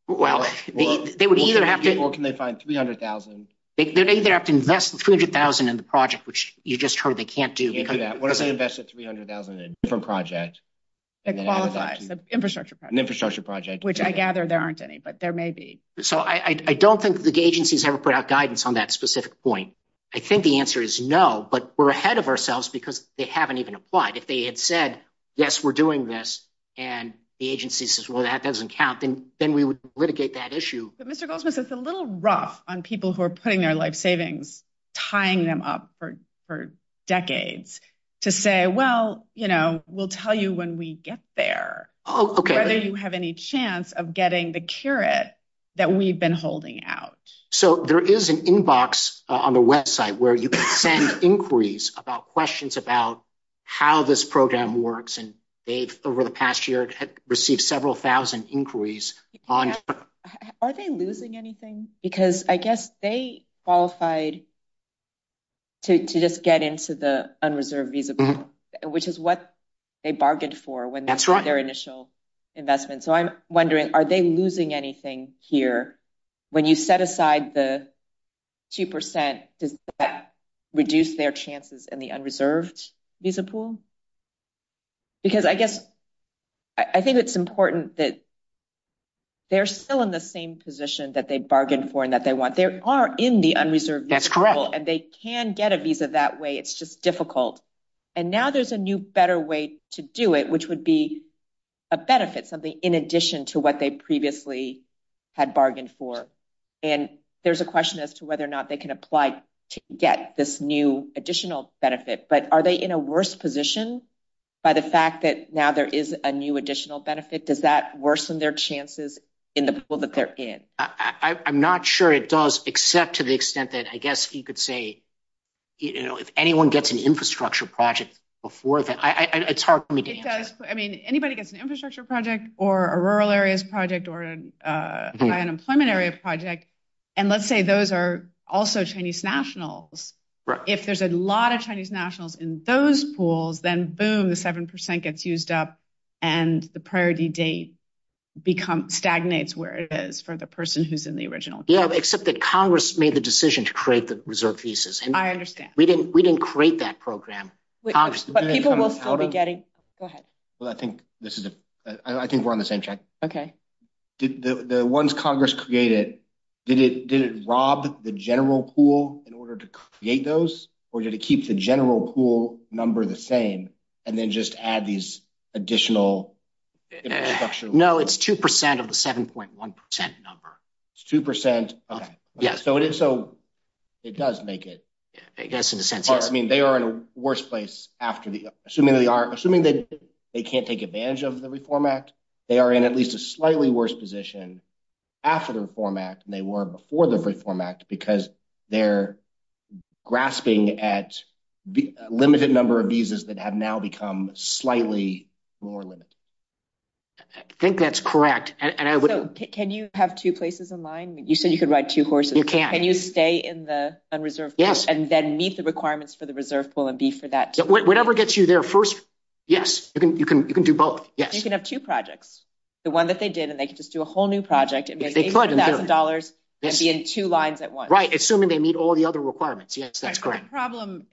Well, they would either have to. Or can they find 300,000? They'd either have to invest the 300,000 in the project, which you just heard they can't do. What if they invest the 300,000 in a different project? They qualify, an infrastructure project, which I gather there aren't any, but there may be. So I don't think the agencies ever put out guidance on that specific point. I think the answer is no, but we're ahead of ourselves because they haven't even applied. If they had said, yes, we're doing this. And the agency says, well, that doesn't count. Then we would litigate that issue. Mr. Goldsmith, it's a little rough on people who are putting their life savings, tying them up for decades to say, well, we'll tell you when we get there, whether you have any chance of getting the carrot that we've been holding out. So there is an inbox on the website where you can send inquiries about questions about how this program works. And they've, over the past year, had received several thousand inquiries on it. Are they losing anything? Because I guess they qualified to just get into the unreserved visa pool, which is what they bargained for when they made their initial investment. So I'm wondering, are they losing anything here when you set aside the 2% to reduce their chances in the unreserved visa pool? Because I guess I think it's important that they're still in the same position that they bargained for and that they want. They are in the unreserved visa pool and they can get a visa that way. It's just difficult. And now there's a new, better way to do it, which would be a benefit, something in addition to what they previously had bargained for. And there's a question as to whether or not they can apply to get this new additional benefit, but are they in a worse position by the fact that now there is a new additional benefit? Does that worsen their chances in the pool that they're in? I'm not sure it does, except to the extent that I guess you could say, you know, if anyone gets an infrastructure project before that, it's hard for me to answer. I mean, anybody gets an infrastructure project or a rural areas project or an unemployment areas project. And let's say those are also Chinese nationals. If there's a lot of Chinese nationals in those pools, then boom, the 7% gets used up and the priority date become, stagnates where it is for the person who's in the original. Yeah. Except that Congress made the decision to create the reserve visas. I understand. We didn't, we didn't create that program. People will probably get it. Go ahead. Well, I think this is, I think we're on the same track. Okay. The ones Congress created, did it, did it rob the general pool in order to create those? Or did it keep the general pool number the same and then just add these additional. No, it's 2% of the 7.1% number. 2%. Yeah. So it is. So it does make it. I mean, they are in the worst place after the, assuming they are assuming that they can't take advantage of the reform act. They are in at least a slightly worse position after the reform act than they were before the reform act, because they're grasping at the limited number of visas that have now become slightly more limited. I think that's correct. And I would, can you have two places in line? You said you could ride two horses. Can you stay in the unreserved? Yes. And then meet the requirements for the reserve pool and be for that. Whatever gets you there first. Yes. You can, you can, you can do both. Yes. You can have two projects. The one that they did and they could just do a whole new project. That's right. Assuming they meet all the other requirements. Yes. That's correct. Problem.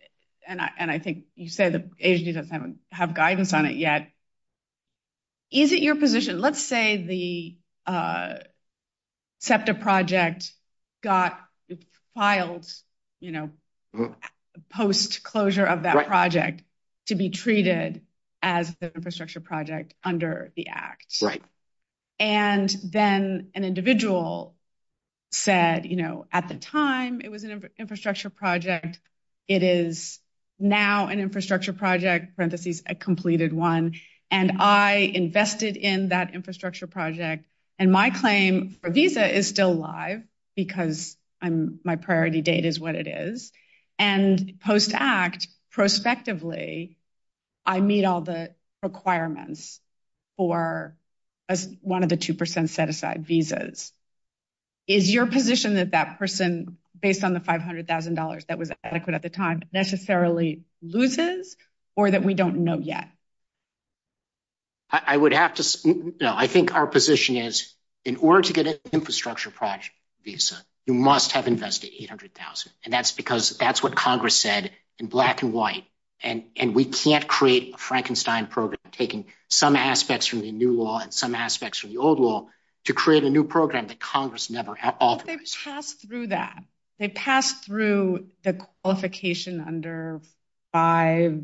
And I, and I think you said, as you don't have guidance on it yet, is it your position? Let's say the SEPTA project got filed, you know, post closure of that project to be treated as the infrastructure project under the act. Right. And then an individual said, you know, at the time it was an infrastructure project. It is now an infrastructure project parentheses. I completed one and I invested in that infrastructure project. And my claim for visa is still alive because I'm my priority date is what it is. And post act prospectively, I meet all the requirements for one of the 2% set aside visas. Is your position that that person based on the $500,000 that was adequate at the time necessarily loses or that we don't know yet. I would have to, you know, I think our position is in order to get an infrastructure project visa, you must have invested 800,000. And that's because that's what Congress said in black and white. And we can't create a Frankenstein program, taking some aspects from the new law and some aspects from the old law to create a new program that Congress never had. It passed through the qualification under five,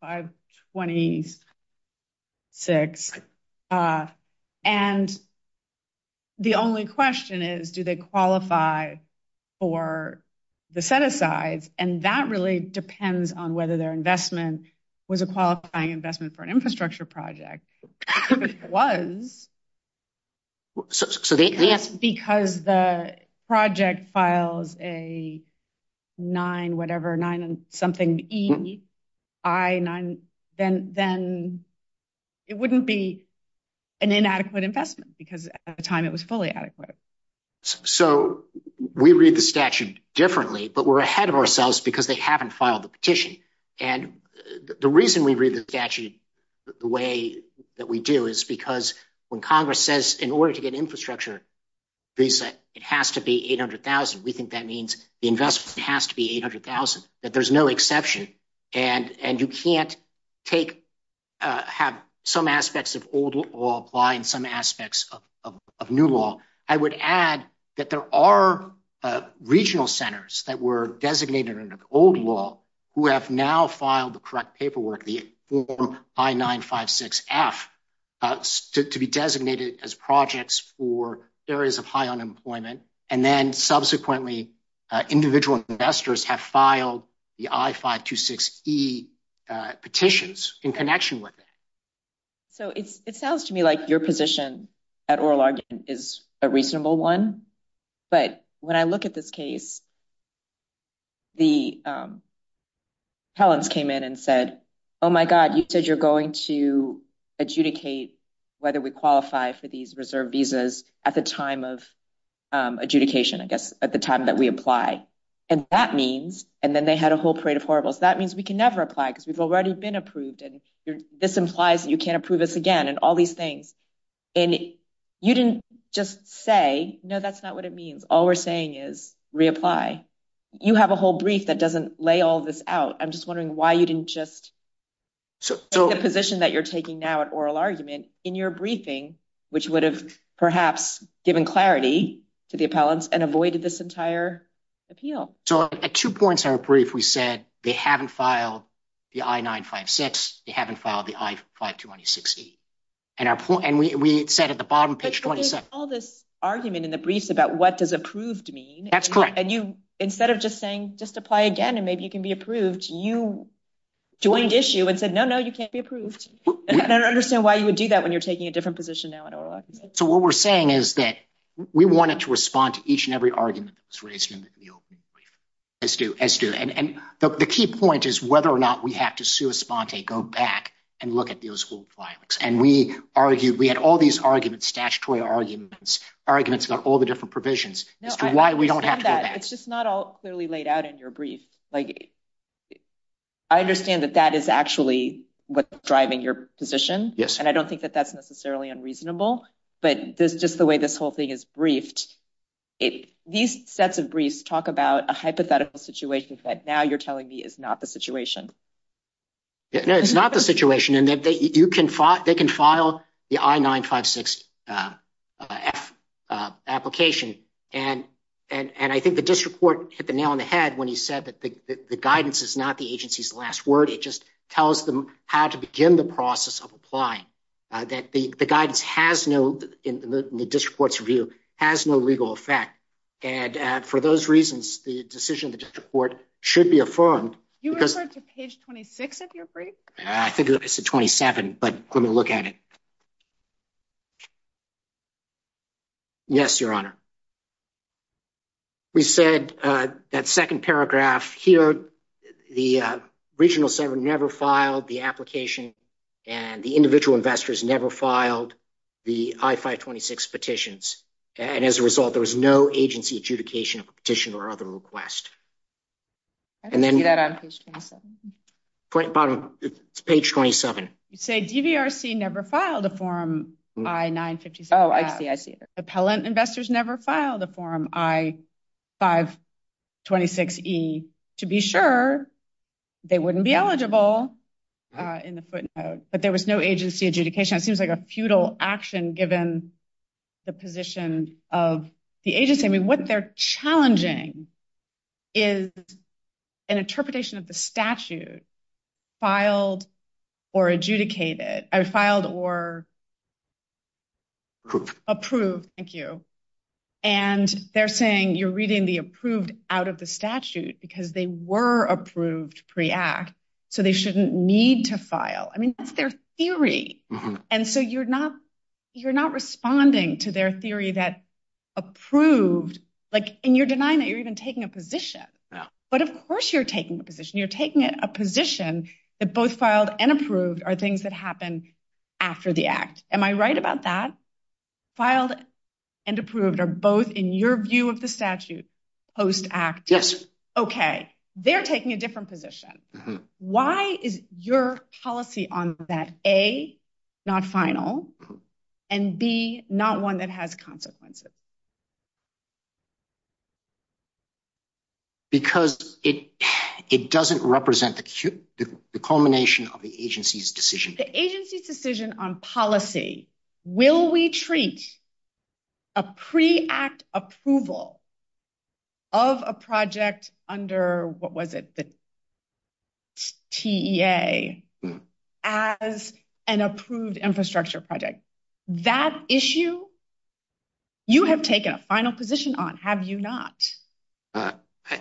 five 26. And the only question is, do they qualify for the set of sides? And that really depends on whether their investment was a qualifying investment for an infrastructure project. Because the project files a nine, whatever nine and something E I nine, then, then it wouldn't be an inadequate investment because at the time it was fully adequate. So we read the statute differently, but we're ahead of ourselves because they haven't filed the petition. And the reason we read the statute, the way that we do is because when Congress says in order to get infrastructure, it has to be 800,000. We think that means the investment has to be 800,000, that there's no exception. And, and you can't take, have some aspects of old law apply in some aspects of, of, of new law. I would add that there are regional centers that were designated under the old law who have now filed the correct paperwork, the I nine five six F to be designated as projects for areas of high unemployment. And then subsequently individual investors have filed the I five two six E petitions in connection with it. So it sounds to me like your position at oral argument is a reasonable one. But when I look at this case, the, um, Collins came in and said, Oh my God, you said you're going to adjudicate whether we qualify for these reserve visas at the time of, um, adjudication, I guess, at the time that we apply and that means, and then they had a whole parade of horribles. That means we can never apply because we've already been approved. And this implies that you can't approve this again and all these things. And you didn't just say, no, that's not what it means. All we're saying is reapply. You have a whole brief that doesn't lay all this out. I'm just wondering why you didn't just, so the position that you're taking now at oral argument in your briefing, which would have perhaps given clarity to the appellants and avoided this brief, we said, they haven't filed the I-956. They haven't filed the I-526E. And we said at the bottom page 27. There's all this argument in the brief about what does approved mean. That's correct. And you, instead of just saying, just apply again and maybe you can be approved, you joined the issue and said, no, no, you can't be approved. I don't understand why you would do that when you're taking a different position now at oral argument. So what we're saying is that we wanted to respond to each and every argument that's raised in the opening brief. As do, as do. And the key point is whether or not we have to sui sponte, go back and look at those whole filings. And we argued, we had all these arguments, statutory arguments, arguments about all the different provisions as to why we don't have to go back. It's just not all clearly laid out in your brief. Like I understand that that is actually what's driving your position. Yes. And I don't think that that's necessarily unreasonable, but this is just the way this whole thing is briefed. These sets of briefs talk about a hypothetical situation that now you're telling me is not the situation. No, it's not the situation. And that you can file, they can file the I-956 application. And, and, and I think the district court hit the nail on the head when he said that the guidance is not the agency's last word. It just tells them how to begin the process of applying that the, the guidance has no, in the district court's view, has no legal effect. And for those reasons, the decision of the district court should be affirmed. You refer to page 26 of your brief? I think it's at 27, but let me look at it. Yes, Your Honor. We said that second paragraph here, the regional center never filed the application and the individual investors never filed the I-526 petitions. And as a result, there was no agency adjudication petition or other request. I can get that on page 27. Bottom, page 27. You say DVRC never filed a form I-956. Oh, I see, I see. Appellant investors never filed a form I-526E to be sure they wouldn't be eligible in the footnote. But there was no agency adjudication. It seems like a futile action given the position of the agency. I mean, what they're challenging is an interpretation of the statute, filed or adjudicated, filed or approved. Thank you. And they're saying you're reading the approved out of the statute because they were approved pre-act, so they shouldn't need to file. I mean, that's their theory. And so you're not responding to their theory that approved. And you're denying that you're even taking a position. But of course you're taking a position. You're taking a position that both filed and approved are things that happen after the act. Am I right about that? Filed and approved are both, in your view of the statute, post-act. Yes. Okay. They're taking a different position. Why is your policy on that A, not final, and B, not one that has consequences? Because it doesn't represent the culmination of the agency's decision. The agency's decision on policy, will we treat a pre-act approval of a project under, what was it, the TEA, as an approved infrastructure project? That issue, you have taken a final position on, have you not?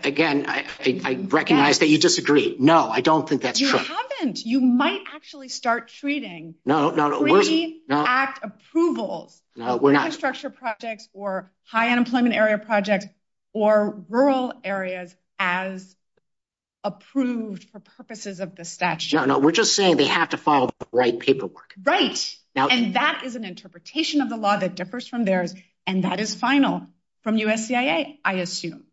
Again, I recognize that you disagree. No, I don't think that's true. You haven't. You might actually start treating pre-act approval of infrastructure projects or high unemployment area projects or rural areas as approved for purposes of the statute. No, no. We're just saying they have to follow the right paperwork. Right. And that is an interpretation of the law that differs from theirs, and that is final from USCIA, I assume.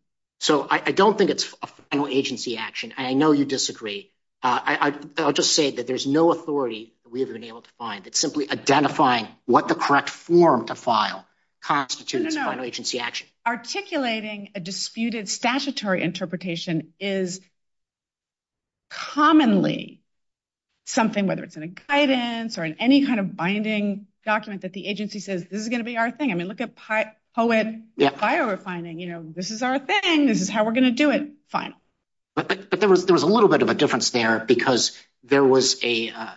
I don't think it's a final agency action. I know you disagree. I'll just say that there's no authority that we have been able to find. It's simply identifying what the correct form to file constitutes final agency action. No, no. Articulating a disputed statutory interpretation is commonly something, whether it's in a guidance or in any kind of binding document, that the agency says, this is going to be our thing. I mean, look at poet refining. This is our thing. This is how we're going to do it. Fine. But there was a little bit of a difference there, because the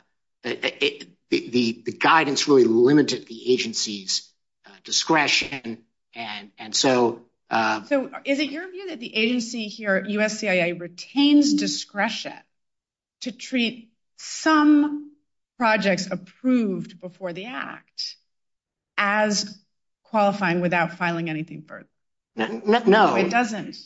guidance really limited the agency's discretion. Is it your view that the agency here, USCIA, retains discretion to treat some projects approved before the act as qualifying without filing anything first? No. It doesn't.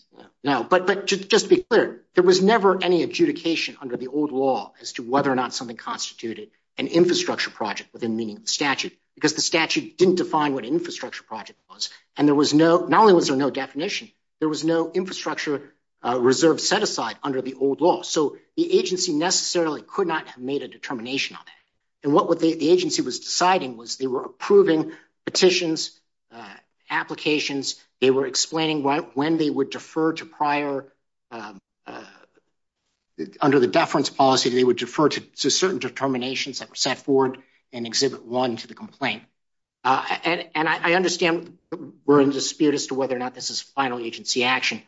But just to be clear, there was never any adjudication under the old law as to whether or not something constituted an infrastructure project with a meaningful statute, because the statute didn't define what an infrastructure project was. And there was no, not only was there no definition, there was no infrastructure reserve set aside under the old law. So the agency necessarily could not have made a determination on that. And what the agency was deciding was they were approving petitions, applications. They were explaining when they would defer to prior, under the deference policy, they would defer to certain determinations that were set forward and exhibit one to the complaint. And I understand we're in dispute as to whether or not this is final agency action.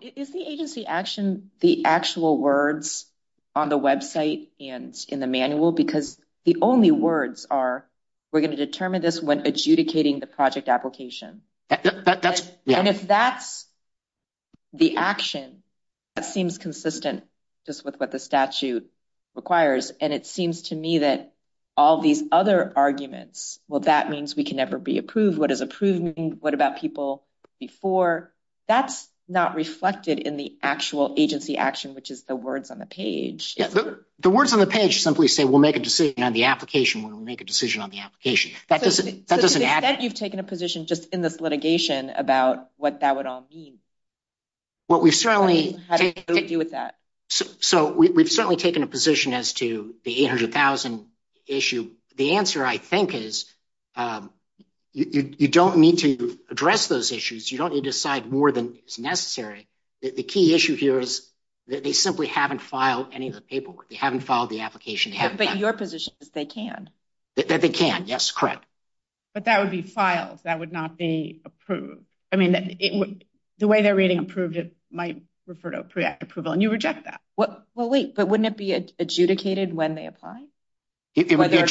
Is the agency action the actual words on the website and in the manual? Because the only words are, we're going to determine this when adjudicating the project application. And if that's the action, that seems consistent just with what the statute requires. And it seems to me that all these other arguments, well, that means we can never be approved. What is approving? What about people before? That's not reflected in the actual agency action, which is the words on the page. The words on the page simply say, we'll make a decision on the application when we make a decision on the application. You've taken a position just in this litigation about what that would all mean. Well, we certainly do with that. So we've certainly taken a position as to the 800,000 issue. The answer I think is you don't need to address those issues. You don't need to decide more than necessary. The key issue here is that they simply haven't filed any of the paperwork. They haven't filed the application. Your position is they can. They can. Yes, correct. But that would be filed. That would not be approved. I mean, the way they're reading approved, it might refer to a pre-act approval. And you reject that. Well, wait, but wouldn't it be adjudicated when they apply? Their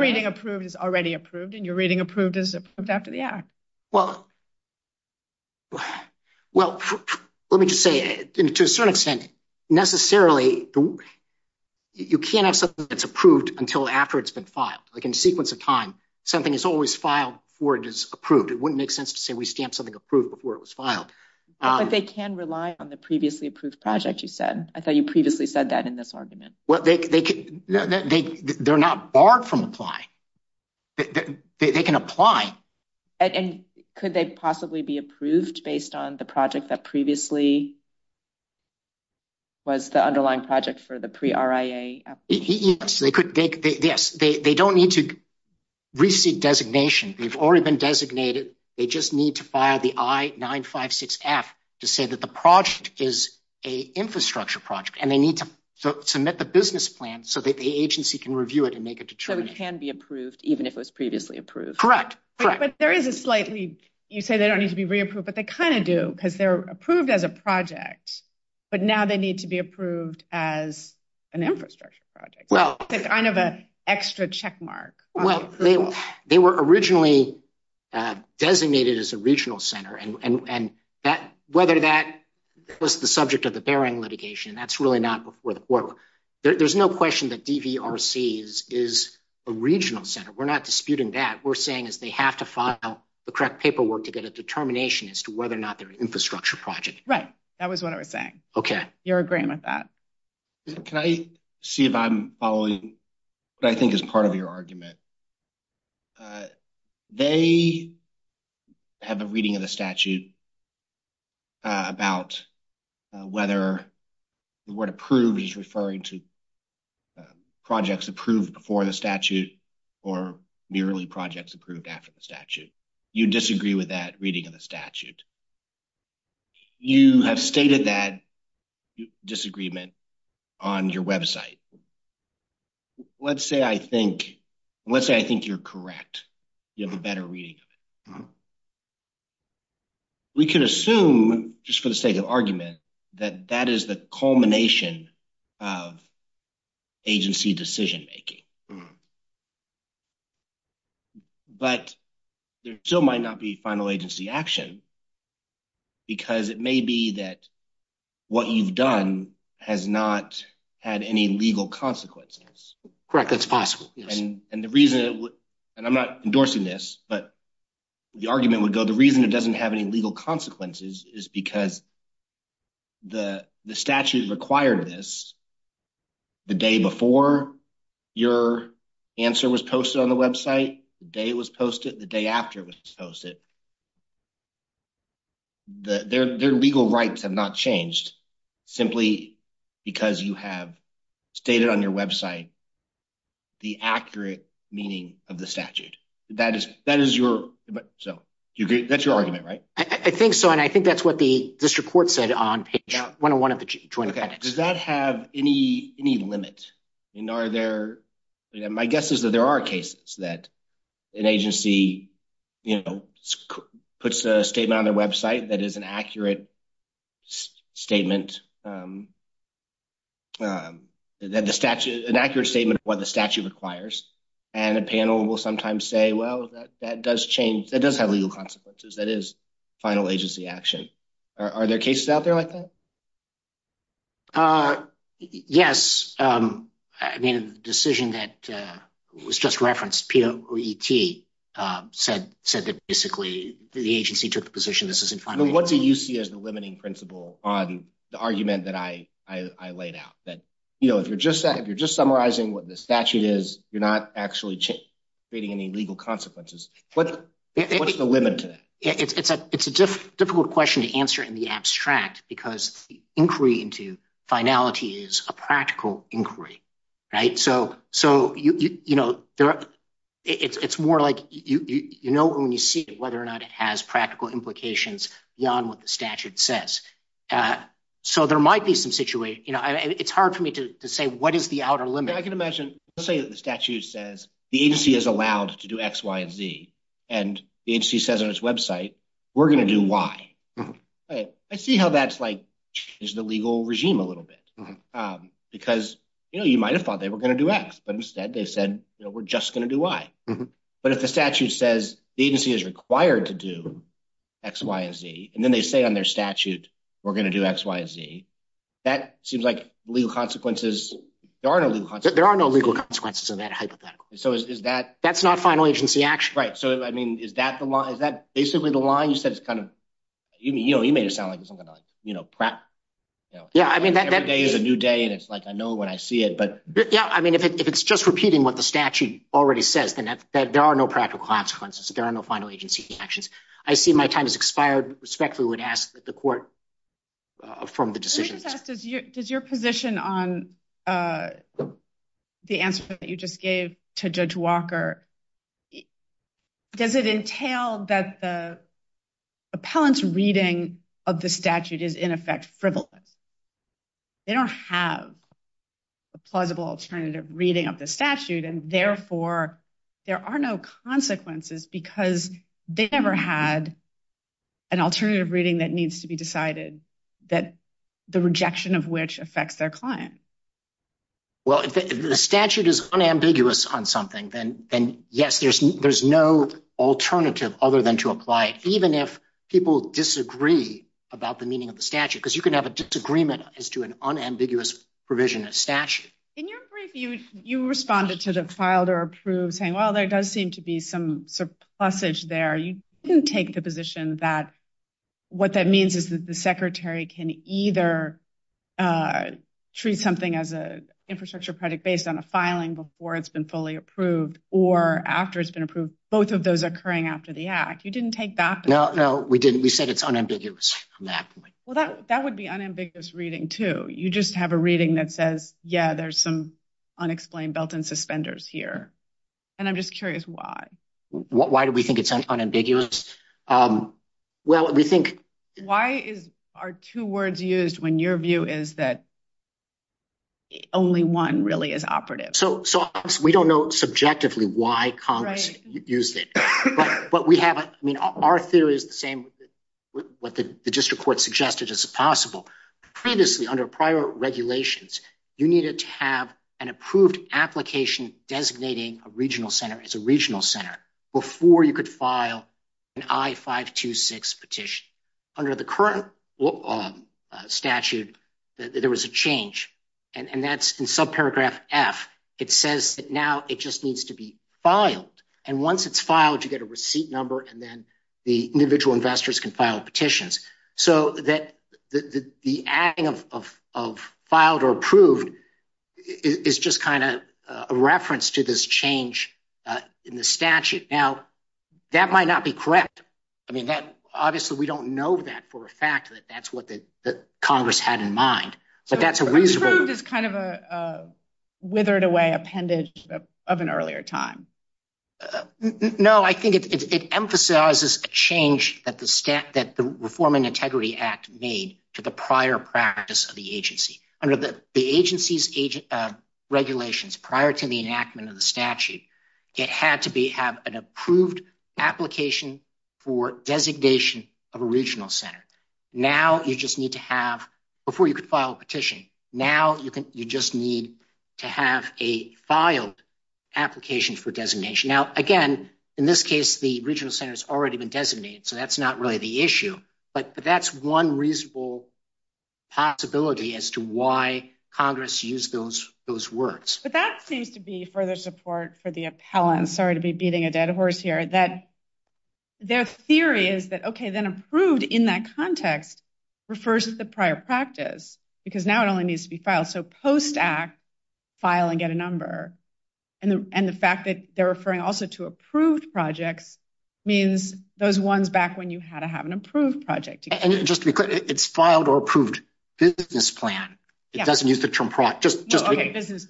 reading approved is already approved. And your reading approved is approved after the act. Well, let me just say to a certain extent, necessarily you can't have something that's approved until after it's been filed. Like in a sequence of time, something is always filed before it is approved. It wouldn't make sense to say we stamp something approved before it was filed. But they can rely on the previously approved project you said. I thought you previously said that in this argument. They're not barred from applying. They can apply. And could they possibly be approved based on the project that previously was the underlying project for the pre RIA? Yes. They don't need to receive designation. We've already been designated. They just need to file the I-956F to say that the project is a infrastructure project and they need to submit the business plan so that the agency can review it and make a determination. So it can be approved, even if it was previously approved. Correct. But there is a slightly, you say they don't need to be re-approved, but they kind of do because they're approved as a project, but now they need to be approved as an infrastructure project. Kind of an extra check mark. Well, they were originally designated as a regional center. And whether that was the subject of the Bering litigation, that's really not before the court. There's no question that DVRC is a regional center. We're not disputing that. What we're saying is they have to file the correct paperwork to get a determination as to whether or not they're an infrastructure project. Right. That was what I was saying. Okay. You're agreeing with that. Can I see if I'm following? I think it's part of your argument. They have a reading of the statute about whether the word approved is in the statute. You disagree with that reading of the statute. You have stated that disagreement on your website. Let's say I think you're correct. You have a better reading of it. We could assume, just for the sake of argument, that that is the culmination of agency decision-making. But there still might not be final agency action because it may be that what you've done has not had any legal consequences. Correct. That's possible. And the reason, and I'm not endorsing this, but the argument would go, the reason it doesn't have any legal consequences is because the statute required this the day before your answer was posted on the website, the day it was posted, the day after it was posted. Their legal rights have not changed simply because you have stated on your website the accurate meaning of the statute. That's your argument, right? I think so, and I think that's what this report said on page 101 of the joint appendix. Does that have any limit? My guess is that there are cases that an agency puts a statement on their website that is an accurate statement of what the statute requires, and a panel will sometimes say, well, that does have legal consequences. That is final agency action. Are there cases out there like that? Yes. The decision that was just referenced, P-O-E-T, said that basically the agency took the position this is a final agency action. What do you see as the limiting principle on the argument that I laid out, that if you're just summarizing what the statute is, you're not actually creating any legal consequences? What's the limit to that? It's a difficult question to answer in the abstract because the inquiry into finality is a practical inquiry, right? So it's more like you know when you see it, whether or not it has practical implications beyond what the statute says. So there might be some situation. It's hard for me to say what is the outer limit. I can imagine. Let's say that the statute says the agency is allowed to do X, Y, and Z. And the agency says on its website, we're going to do Y. I see how that's like the legal regime a little bit. Because you might have thought they were going to do X, but instead they said we're just going to do Y. But if the statute says the agency is required to do X, Y, and Z, and then they say on their statute, we're going to do X, Y, and Z, that seems like legal consequences. There are no legal consequences. There are no legal consequences of that hypothetical. That's not a final agency action. Right. So I mean, is that the law? Is that basically the law? You said it's kind of, you know, it may sound like it's something like, you know, prep. Yeah. I mean, every day is a new day. And it's like, I know when I see it, but. Yeah. I mean, if it's just repeating what the statute already says, then there are no practical consequences. There are no final agency actions. I see my time has expired. Respectfully would ask that the court. Affirm the decision. Does your position on. The answer that you just gave to judge Walker. Does it entail that the. Appellant's reading of the statute is in effect frivolous. They don't have. A plausible alternative reading of the statute and therefore. There are no consequences because they never had. An alternative reading that needs to be decided. That the rejection of which affects their client. Well, the statute is unambiguous on something. And yes, there's, there's no alternative other than to apply. Even if people disagree. About the meaning of the statute, because you can have a disagreement as to an unambiguous provision. You responded to the filed or approved saying, well, there does seem to be some. There you can take the position that. What that means is that the secretary can either. Treat something as a infrastructure credit based on the filing before it's been fully approved or after it's been approved. Both of those are occurring after the act. You didn't take that. No, no, we didn't. We said it's unambiguous. Well, that, that would be unambiguous reading too. You just have a reading that says, yeah, there's some unexplained belt and suspenders here. And I'm just curious why. Why do we think it sounds unambiguous? Well, we think. Why is our two words used when your view is that. Only one really is operative. So, so we don't know subjectively why Congress used it, but we haven't. I mean, our two is the same. What the district court suggested as possible. Previously under prior regulations. You needed to have an approved application. Designating a regional center. It's a regional center. Before you could file. An I five to six petition. Under the current. Statute. And that's in subparagraph F. It says that now it just needs to be filed. And once it's filed, you get a receipt number. And then the individual investors can file petitions. So that. Of filed or approved. It's just kind of a reference to this change. In the statute now. That might not be correct. I mean, that obviously we don't know that for a fact. That's what the Congress had in mind. But that's a reasonable. It's kind of a. Withered away appendage. Of an earlier time. No, I think it emphasizes the change that the staff, that the reform and integrity act made to the prior practice of the agency. Under the agency's age. Regulations prior to the enactment of the statute. It had to be have an approved application. For designation of a regional center. Now, you just need to have. Before you could file a petition. Now, you can, you just need. To have a filed. Application for designation. Now, again. In this case, the regional centers already been designated. So that's not really the issue. But that's one reasonable. Possibility as to why Congress use those. Those words, but that seems to be further support for the appellant. Sorry to be beating a dead horse here. That. Their theory is that. Okay. Then approved in that context. Refers to the prior practice. Because now it only needs to be filed. So post act. File and get a number. And the fact that they're referring also to approved project. Means those ones back when you had to have an approved project. Just because it's filed or approved. This plan. It doesn't use the term practice.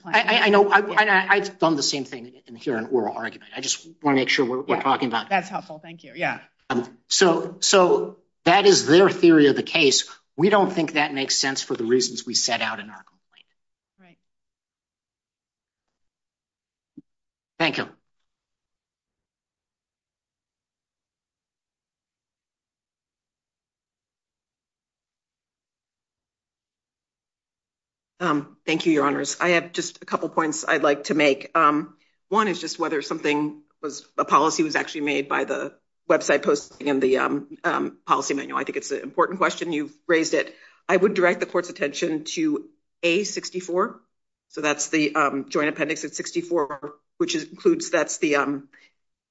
I know. I've done the same thing. I just want to make sure we're talking about. That's helpful. Thank you. Yeah. So, so that is their theory of the case. We don't think that makes sense for the reasons we set out in our. Right. Thank you. Thank you, your honors. I have just a couple of points I'd like to make. One is just whether something was a policy was actually made by the. Website posting in the policy manual. I think it's an important question. You raised it. I would direct the court's attention to a 64. So that's the joint appendix at 64, which includes. That's the.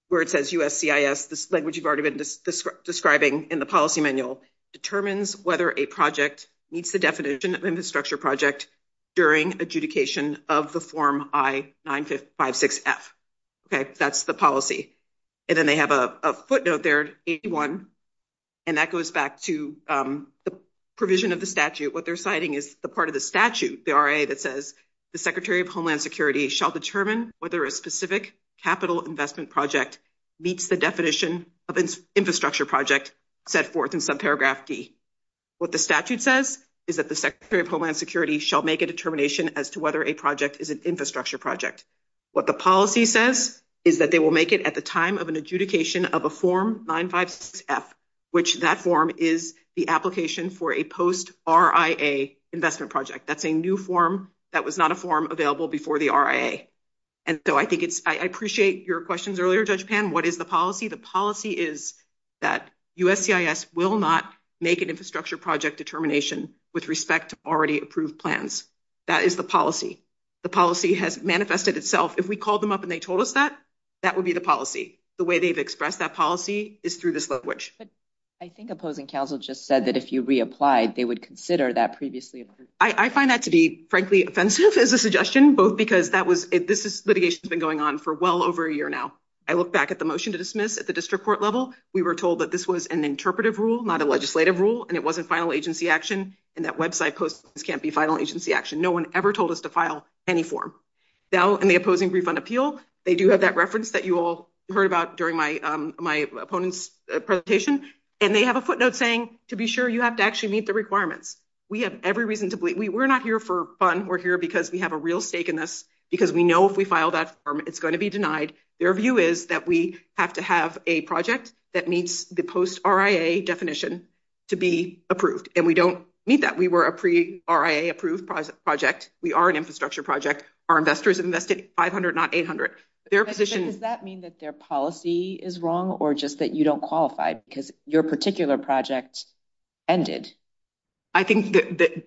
Where it says, this language you've already been describing in the policy manual. Determines whether a project meets the definition of infrastructure project. During adjudication of the form. I 9, 5, 6. Okay, that's the policy. And then they have a footnote there. And that goes back to the provision of the statute. What they're citing is a part of the statute. The statute says that the secretary of Homeland security shall determine. Whether a specific capital investment project. Meets the definition of infrastructure project. Set forth in sub paragraph D. What the statute says. Is that the secretary of Homeland security shall make a determination as to whether a project is an infrastructure project. What the policy says is that they will make it at the time of an adjudication of a form. That's a new form. That was not a form available before the. And so I think it's, I appreciate your questions earlier. What is the policy? The policy is. That will not make an infrastructure project determination with respect to already approved plans. That is the policy. The policy has manifested itself. If we call them up and they told us that. That would be the policy. The way they've expressed that policy. I think opposing counsel just said that if you reapplied, they would consider that previously. I find that to be frankly offensive as a suggestion, both because that was, this is litigation has been going on for well over a year now. I look back at the motion to dismiss at the district court level. We were told that this was an interpretive rule, not a legislative rule. And it wasn't final agency action. And that website posts. This can't be final agency action. No one ever told us to file any form. Now in the opposing refund appeal. They do have that reference that you all heard about during my, my opponent's presentation. And they have a footnote saying to be sure you have to actually meet the requirements. We have every reason to believe we were not here for fun. We're here because we have a real stake in this because we know if we file that. It's going to be denied. Your view is that we have to have a project. That means the post RIA definition. To be approved. And we don't need that. We were a pre RIA approved project. Project. We are an infrastructure project. Our investors invested 500, not 800. Their position. Does that mean that their policy is wrong or just that you don't qualify because your particular project. Ended. I think that.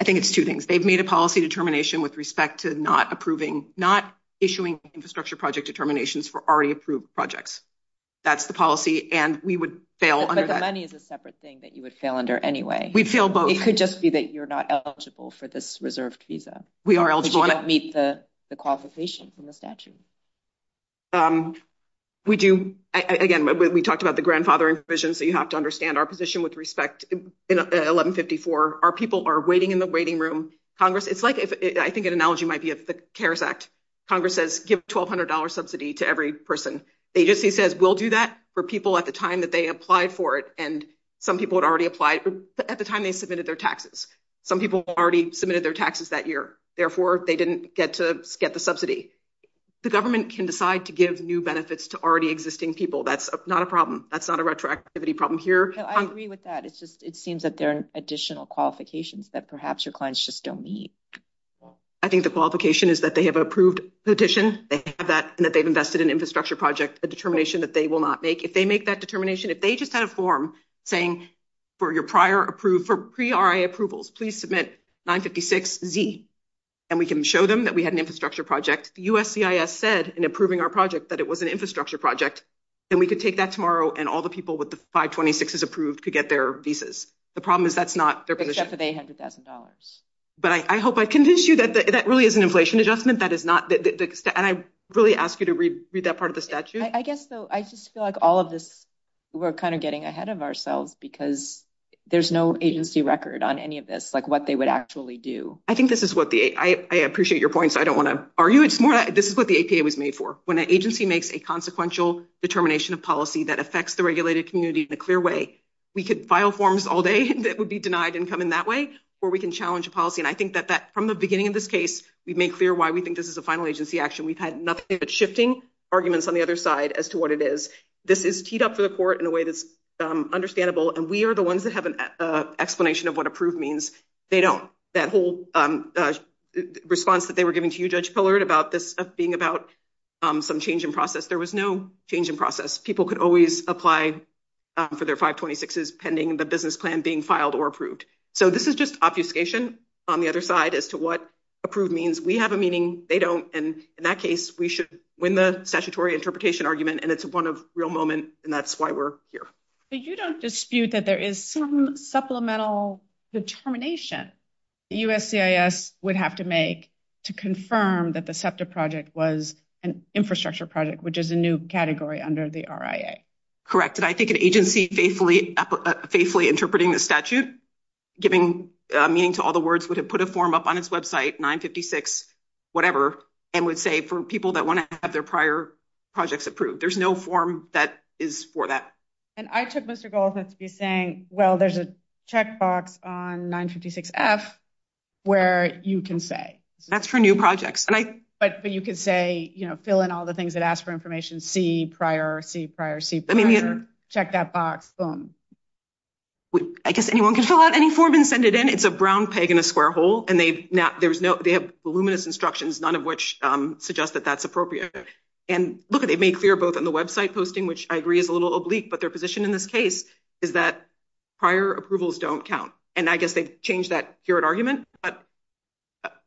I think it's two things. They've made a policy determination with respect to not approving, not issuing infrastructure project determinations for already approved projects. That's the policy and we would fail. Money is a separate thing that you would fail under anyway. We'd feel both. It could just be that you're not eligible for this reserved visa. We are eligible to meet the qualification in the statute. We do. Again, we talked about the grandfathering vision. So you have to understand our position with respect. In 1154, our people are waiting in the waiting room. Congress. It's like, I think an analogy might be a terrorist act. Congress says, give $1200 subsidy to every person. They just, he says, we'll do that for people at the time that they apply for it. And some people would already apply at the time they submitted their taxes. Some people already submitted their taxes that year. Therefore, they didn't get to get the subsidy. The government can decide to give new benefits to already existing people. That's not a problem. That's not a retroactivity problem here. I agree with that. It's just, it seems that there are additional qualifications that perhaps your clients just don't need. I think the qualification is that they have approved the addition, that they've invested in infrastructure project, the determination that they will not make. If they make that determination, If they just had a form saying for your prior approved for pre-RIA approvals, please submit 956Z. And we can show them that we had an infrastructure project. The USCIS said in approving our project that it was an infrastructure project. And we could take that tomorrow and all the people with the 526 is approved to get their visas. The problem is that's not. But I hope I convinced you that that really is an inflation adjustment. That is not. And I really ask you to read that part of the statute. I guess so. I just feel like all of this. We're kind of getting ahead of ourselves because there's no agency record on any of this, like what they would actually do. I think this is what the, I appreciate your points. I don't want to argue. It's more, this is what the APA was made for. When an agency makes a consequential determination of policy that affects the regulated community, the clear way. We could file forms all day. That would be denied income in that way, or we can challenge a policy. And I think that that from the beginning of this case, we've made clear why we think this is a final agency action. We've had nothing but shifting arguments on the other side as to what it is. This is teed up to the court in a way that's understandable. And we are the ones that have an explanation of what approved means. They don't. That whole response that they were giving to you, Judge Pollard, about this being about some change in process. There was no change in process. People could always apply for their 526s pending the business plan being filed or approved. So this is just obfuscation on the other side as to what approved means. We have a meaning. They don't. And in that case, we should win the statutory interpretation argument. And it's a real moment. And that's why we're here. But you don't dispute that there is some supplemental determination. USCIS would have to make to confirm that the SEPTA project was an infrastructure project, which is a new category under the RIA. Correct. And I think an agency faithfully interpreting the statute, giving meaning to all the words, would have put a form up on his website, 956, whatever. And we'd say for people that want to have their prior projects approved, there's no form that is for that. And I took this to go with it to be saying, well, there's a checkbox on 956 F where you can say, that's for new projects. But you could say, you know, fill in all the things that ask for information, see prior, see, prior, see, check that box. Boom. I guess anyone can show out any form and send it in. It's a brown peg in a square hole and they've not, there's no, they have voluminous instructions, none of which suggest that that's appropriate. And look at it made clear both on the website posting, which I agree is a little oblique, but their position in this case is that prior approvals don't count. And I guess they changed that here at argument, but.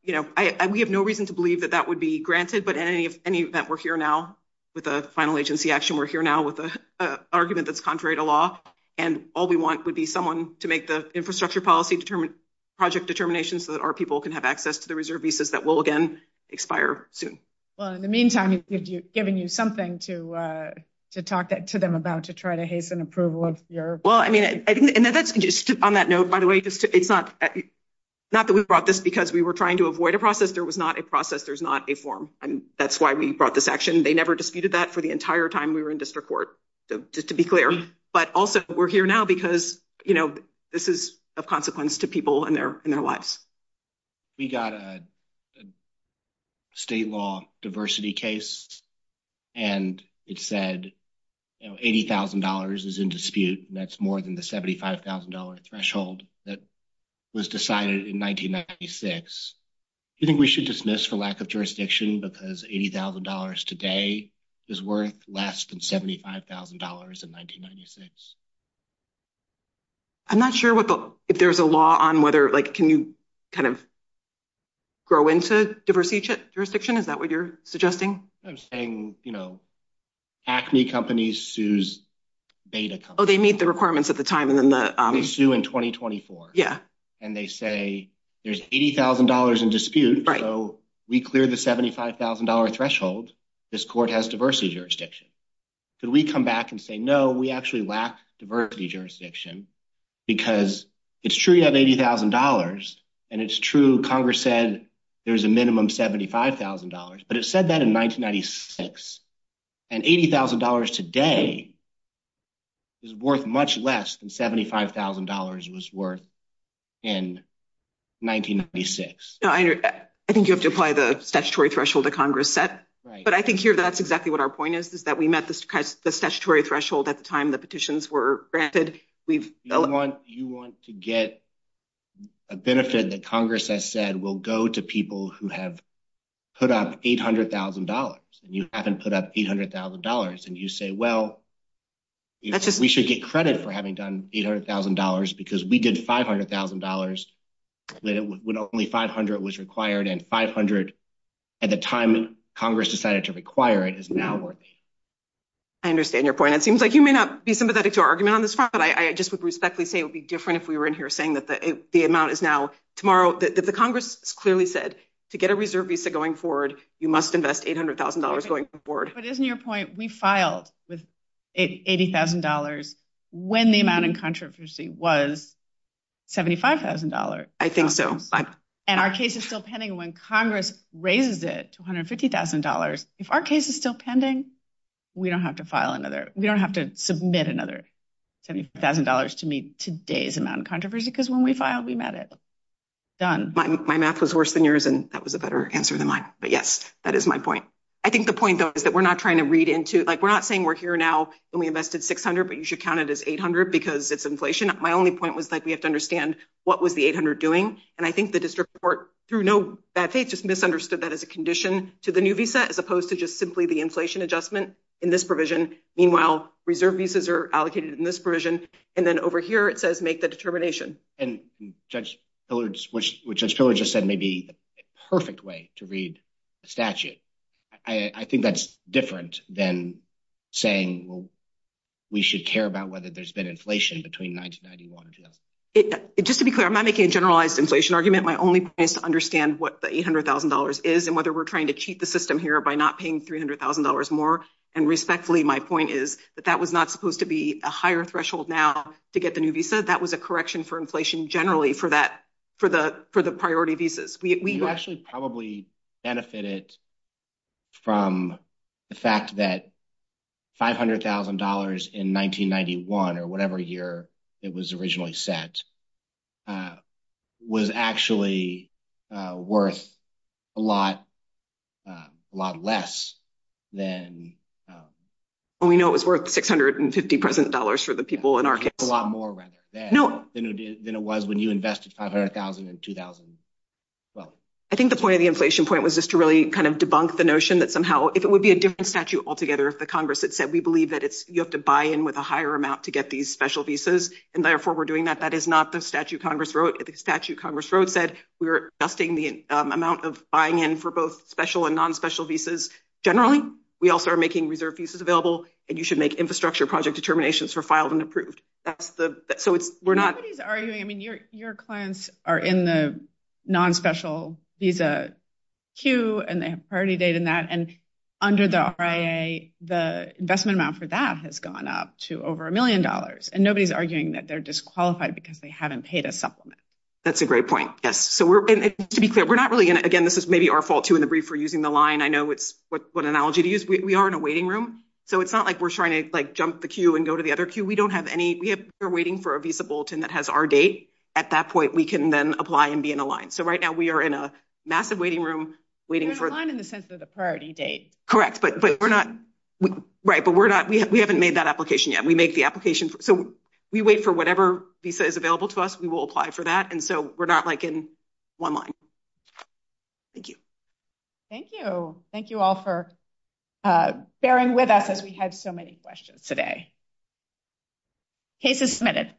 You know, I, we have no reason to believe that that would be granted, but any, if any, that we're here now with a final agency action, we're here now with a argument that's contrary to law and all we want would be someone to make the infrastructure policy determined. Project determination so that our people can have access to the reserve visas that will again expire soon. Well, in the meantime, if you've given you something to, to talk to them about, to try to hasten approval of your. Well, I mean, I didn't. On that note, by the way, it's not. Not that we brought this because we were trying to avoid a process. There was not a process. There's not a form. And that's why we brought this action. They never disputed that for the entire time we were in district court. Just to be clear, but also we're here now because, you know, this is a consequence to people in their, in their lives. We got a. State law diversity case. And it said. $80,000 is in dispute. That's more than the $75,000 threshold. That was decided in 1996. I think we should dismiss for lack of jurisdiction because $80,000 today is worth less than $75,000 in 1996. I'm not sure what the, if there's a law on whether, like, can you. Kind of. Grow into diversity jurisdiction. Is that what you're suggesting? I'm saying, you know. Acne companies. Oh, they meet the requirements at the time and then the issue in 2024. Yeah. And they say there's $80,000 in dispute. We cleared the $75,000 threshold. This court has diversity jurisdiction. Can we come back and say, no, we actually lack diversity jurisdiction. Because it's true. You have $80,000. And it's true. Congress said. There's a minimum $75,000, but it said that in 1996. And $80,000 today. Is worth much less than $75,000 was worth. In 1996. I think you have to apply the statutory threshold to Congress set. But I think here, that's exactly what our point is, is that we met this. The statutory threshold at the time that petitions were granted. We've. You want to get. A benefit that Congress has said, we'll go to people who have. Put out $800,000 and you haven't put up $800,000. And you say, well. We should get credit for having done $800,000 because we did $500,000. When only 500 was required and 500. At the time Congress decided to require it is now. I understand your point. It seems like you may not be sympathetic to our argument on this. But I just would respectfully say it would be different if we were in here saying that the amount is now tomorrow. The Congress clearly said to get a reserve visa going forward. You must invest $800,000 going forward. But isn't your point? We filed with $80,000. When the amount in controversy was. $75,000. I think so. And our case is still pending when Congress raises it to $150,000. If our case is still pending. We don't have to file another. We don't have to submit another. $70,000 to me today's amount controversy because when we filed, we met it. Done my math was worse than yours and that was a better answer than mine. But yes, that is my point. I think the point is that we're not trying to read into, like, we're not saying we're here now. And we invested 600, but you should count it as 800 because it's inflation. My only point was that we have to understand what was the 800 doing? And I think the district court, through no bad faith, just misunderstood that as a condition to the new visa. As opposed to just simply the inflation adjustment in this provision. Meanwhile, reserve visas are allocated in this version. And then over here, it says, make the determination. And judge, which is really just said, maybe perfect way to read a statute. I think that's different than saying we should care about whether there's been inflation between 1991. Just to be clear, I'm not making a generalized inflation argument. My only is to understand what the $800,000 is and whether we're trying to cheat the system here by not paying $300,000 more. And respectfully, my point is that that was not supposed to be a higher threshold now to get the new visa. I said that was a correction for inflation generally for the priority visas. We actually probably benefited from the fact that $500,000 in 1991 or whatever year it was originally set was actually worth a lot less than. We know it was worth $650,000 for the people in our case. A lot more than it was when you invested $500,000 in 2012. I think the point of the inflation point was just to really kind of debunk the notion that somehow it would be a different statute altogether. If the Congress had said, we believe that you have to buy in with a higher amount to get these special visas. And therefore, we're doing that. That is not the statute Congress wrote. The statute Congress wrote said we were adjusting the amount of buying in for both special and non-special visas. Generally, we also are making reserve visas available. And you should make infrastructure project determinations for filed and approved. So we're not. Nobody's arguing. I mean, your clients are in the non-special visa queue. And they have a priority date in that. And under the RIA, the investment amount for that has gone up to over $1 million. And nobody's arguing that they're disqualified because they haven't paid a supplement. That's a great point. Yes. So to be fair, we're not really in it. Again, this is maybe our fault, too, in the brief. We're using the line. I know it's what analogy to use. We are in a waiting room. So it's not like we're trying to, like, jump the queue and go to the other queue. We don't have any. We're waiting for a visa bulletin that has our date. At that point, we can then apply and be in a line. So right now, we are in a massive waiting room. We're in a line in the sense of a priority date. Correct. But we're not. Right. But we're not. We haven't made that application yet. We make the application. So we wait for whatever visa is available to us. We will apply for that. And so we're not, like, in one line. Thank you. Thank you. Thank you all for bearing with us as we had so many questions today. Case is submitted.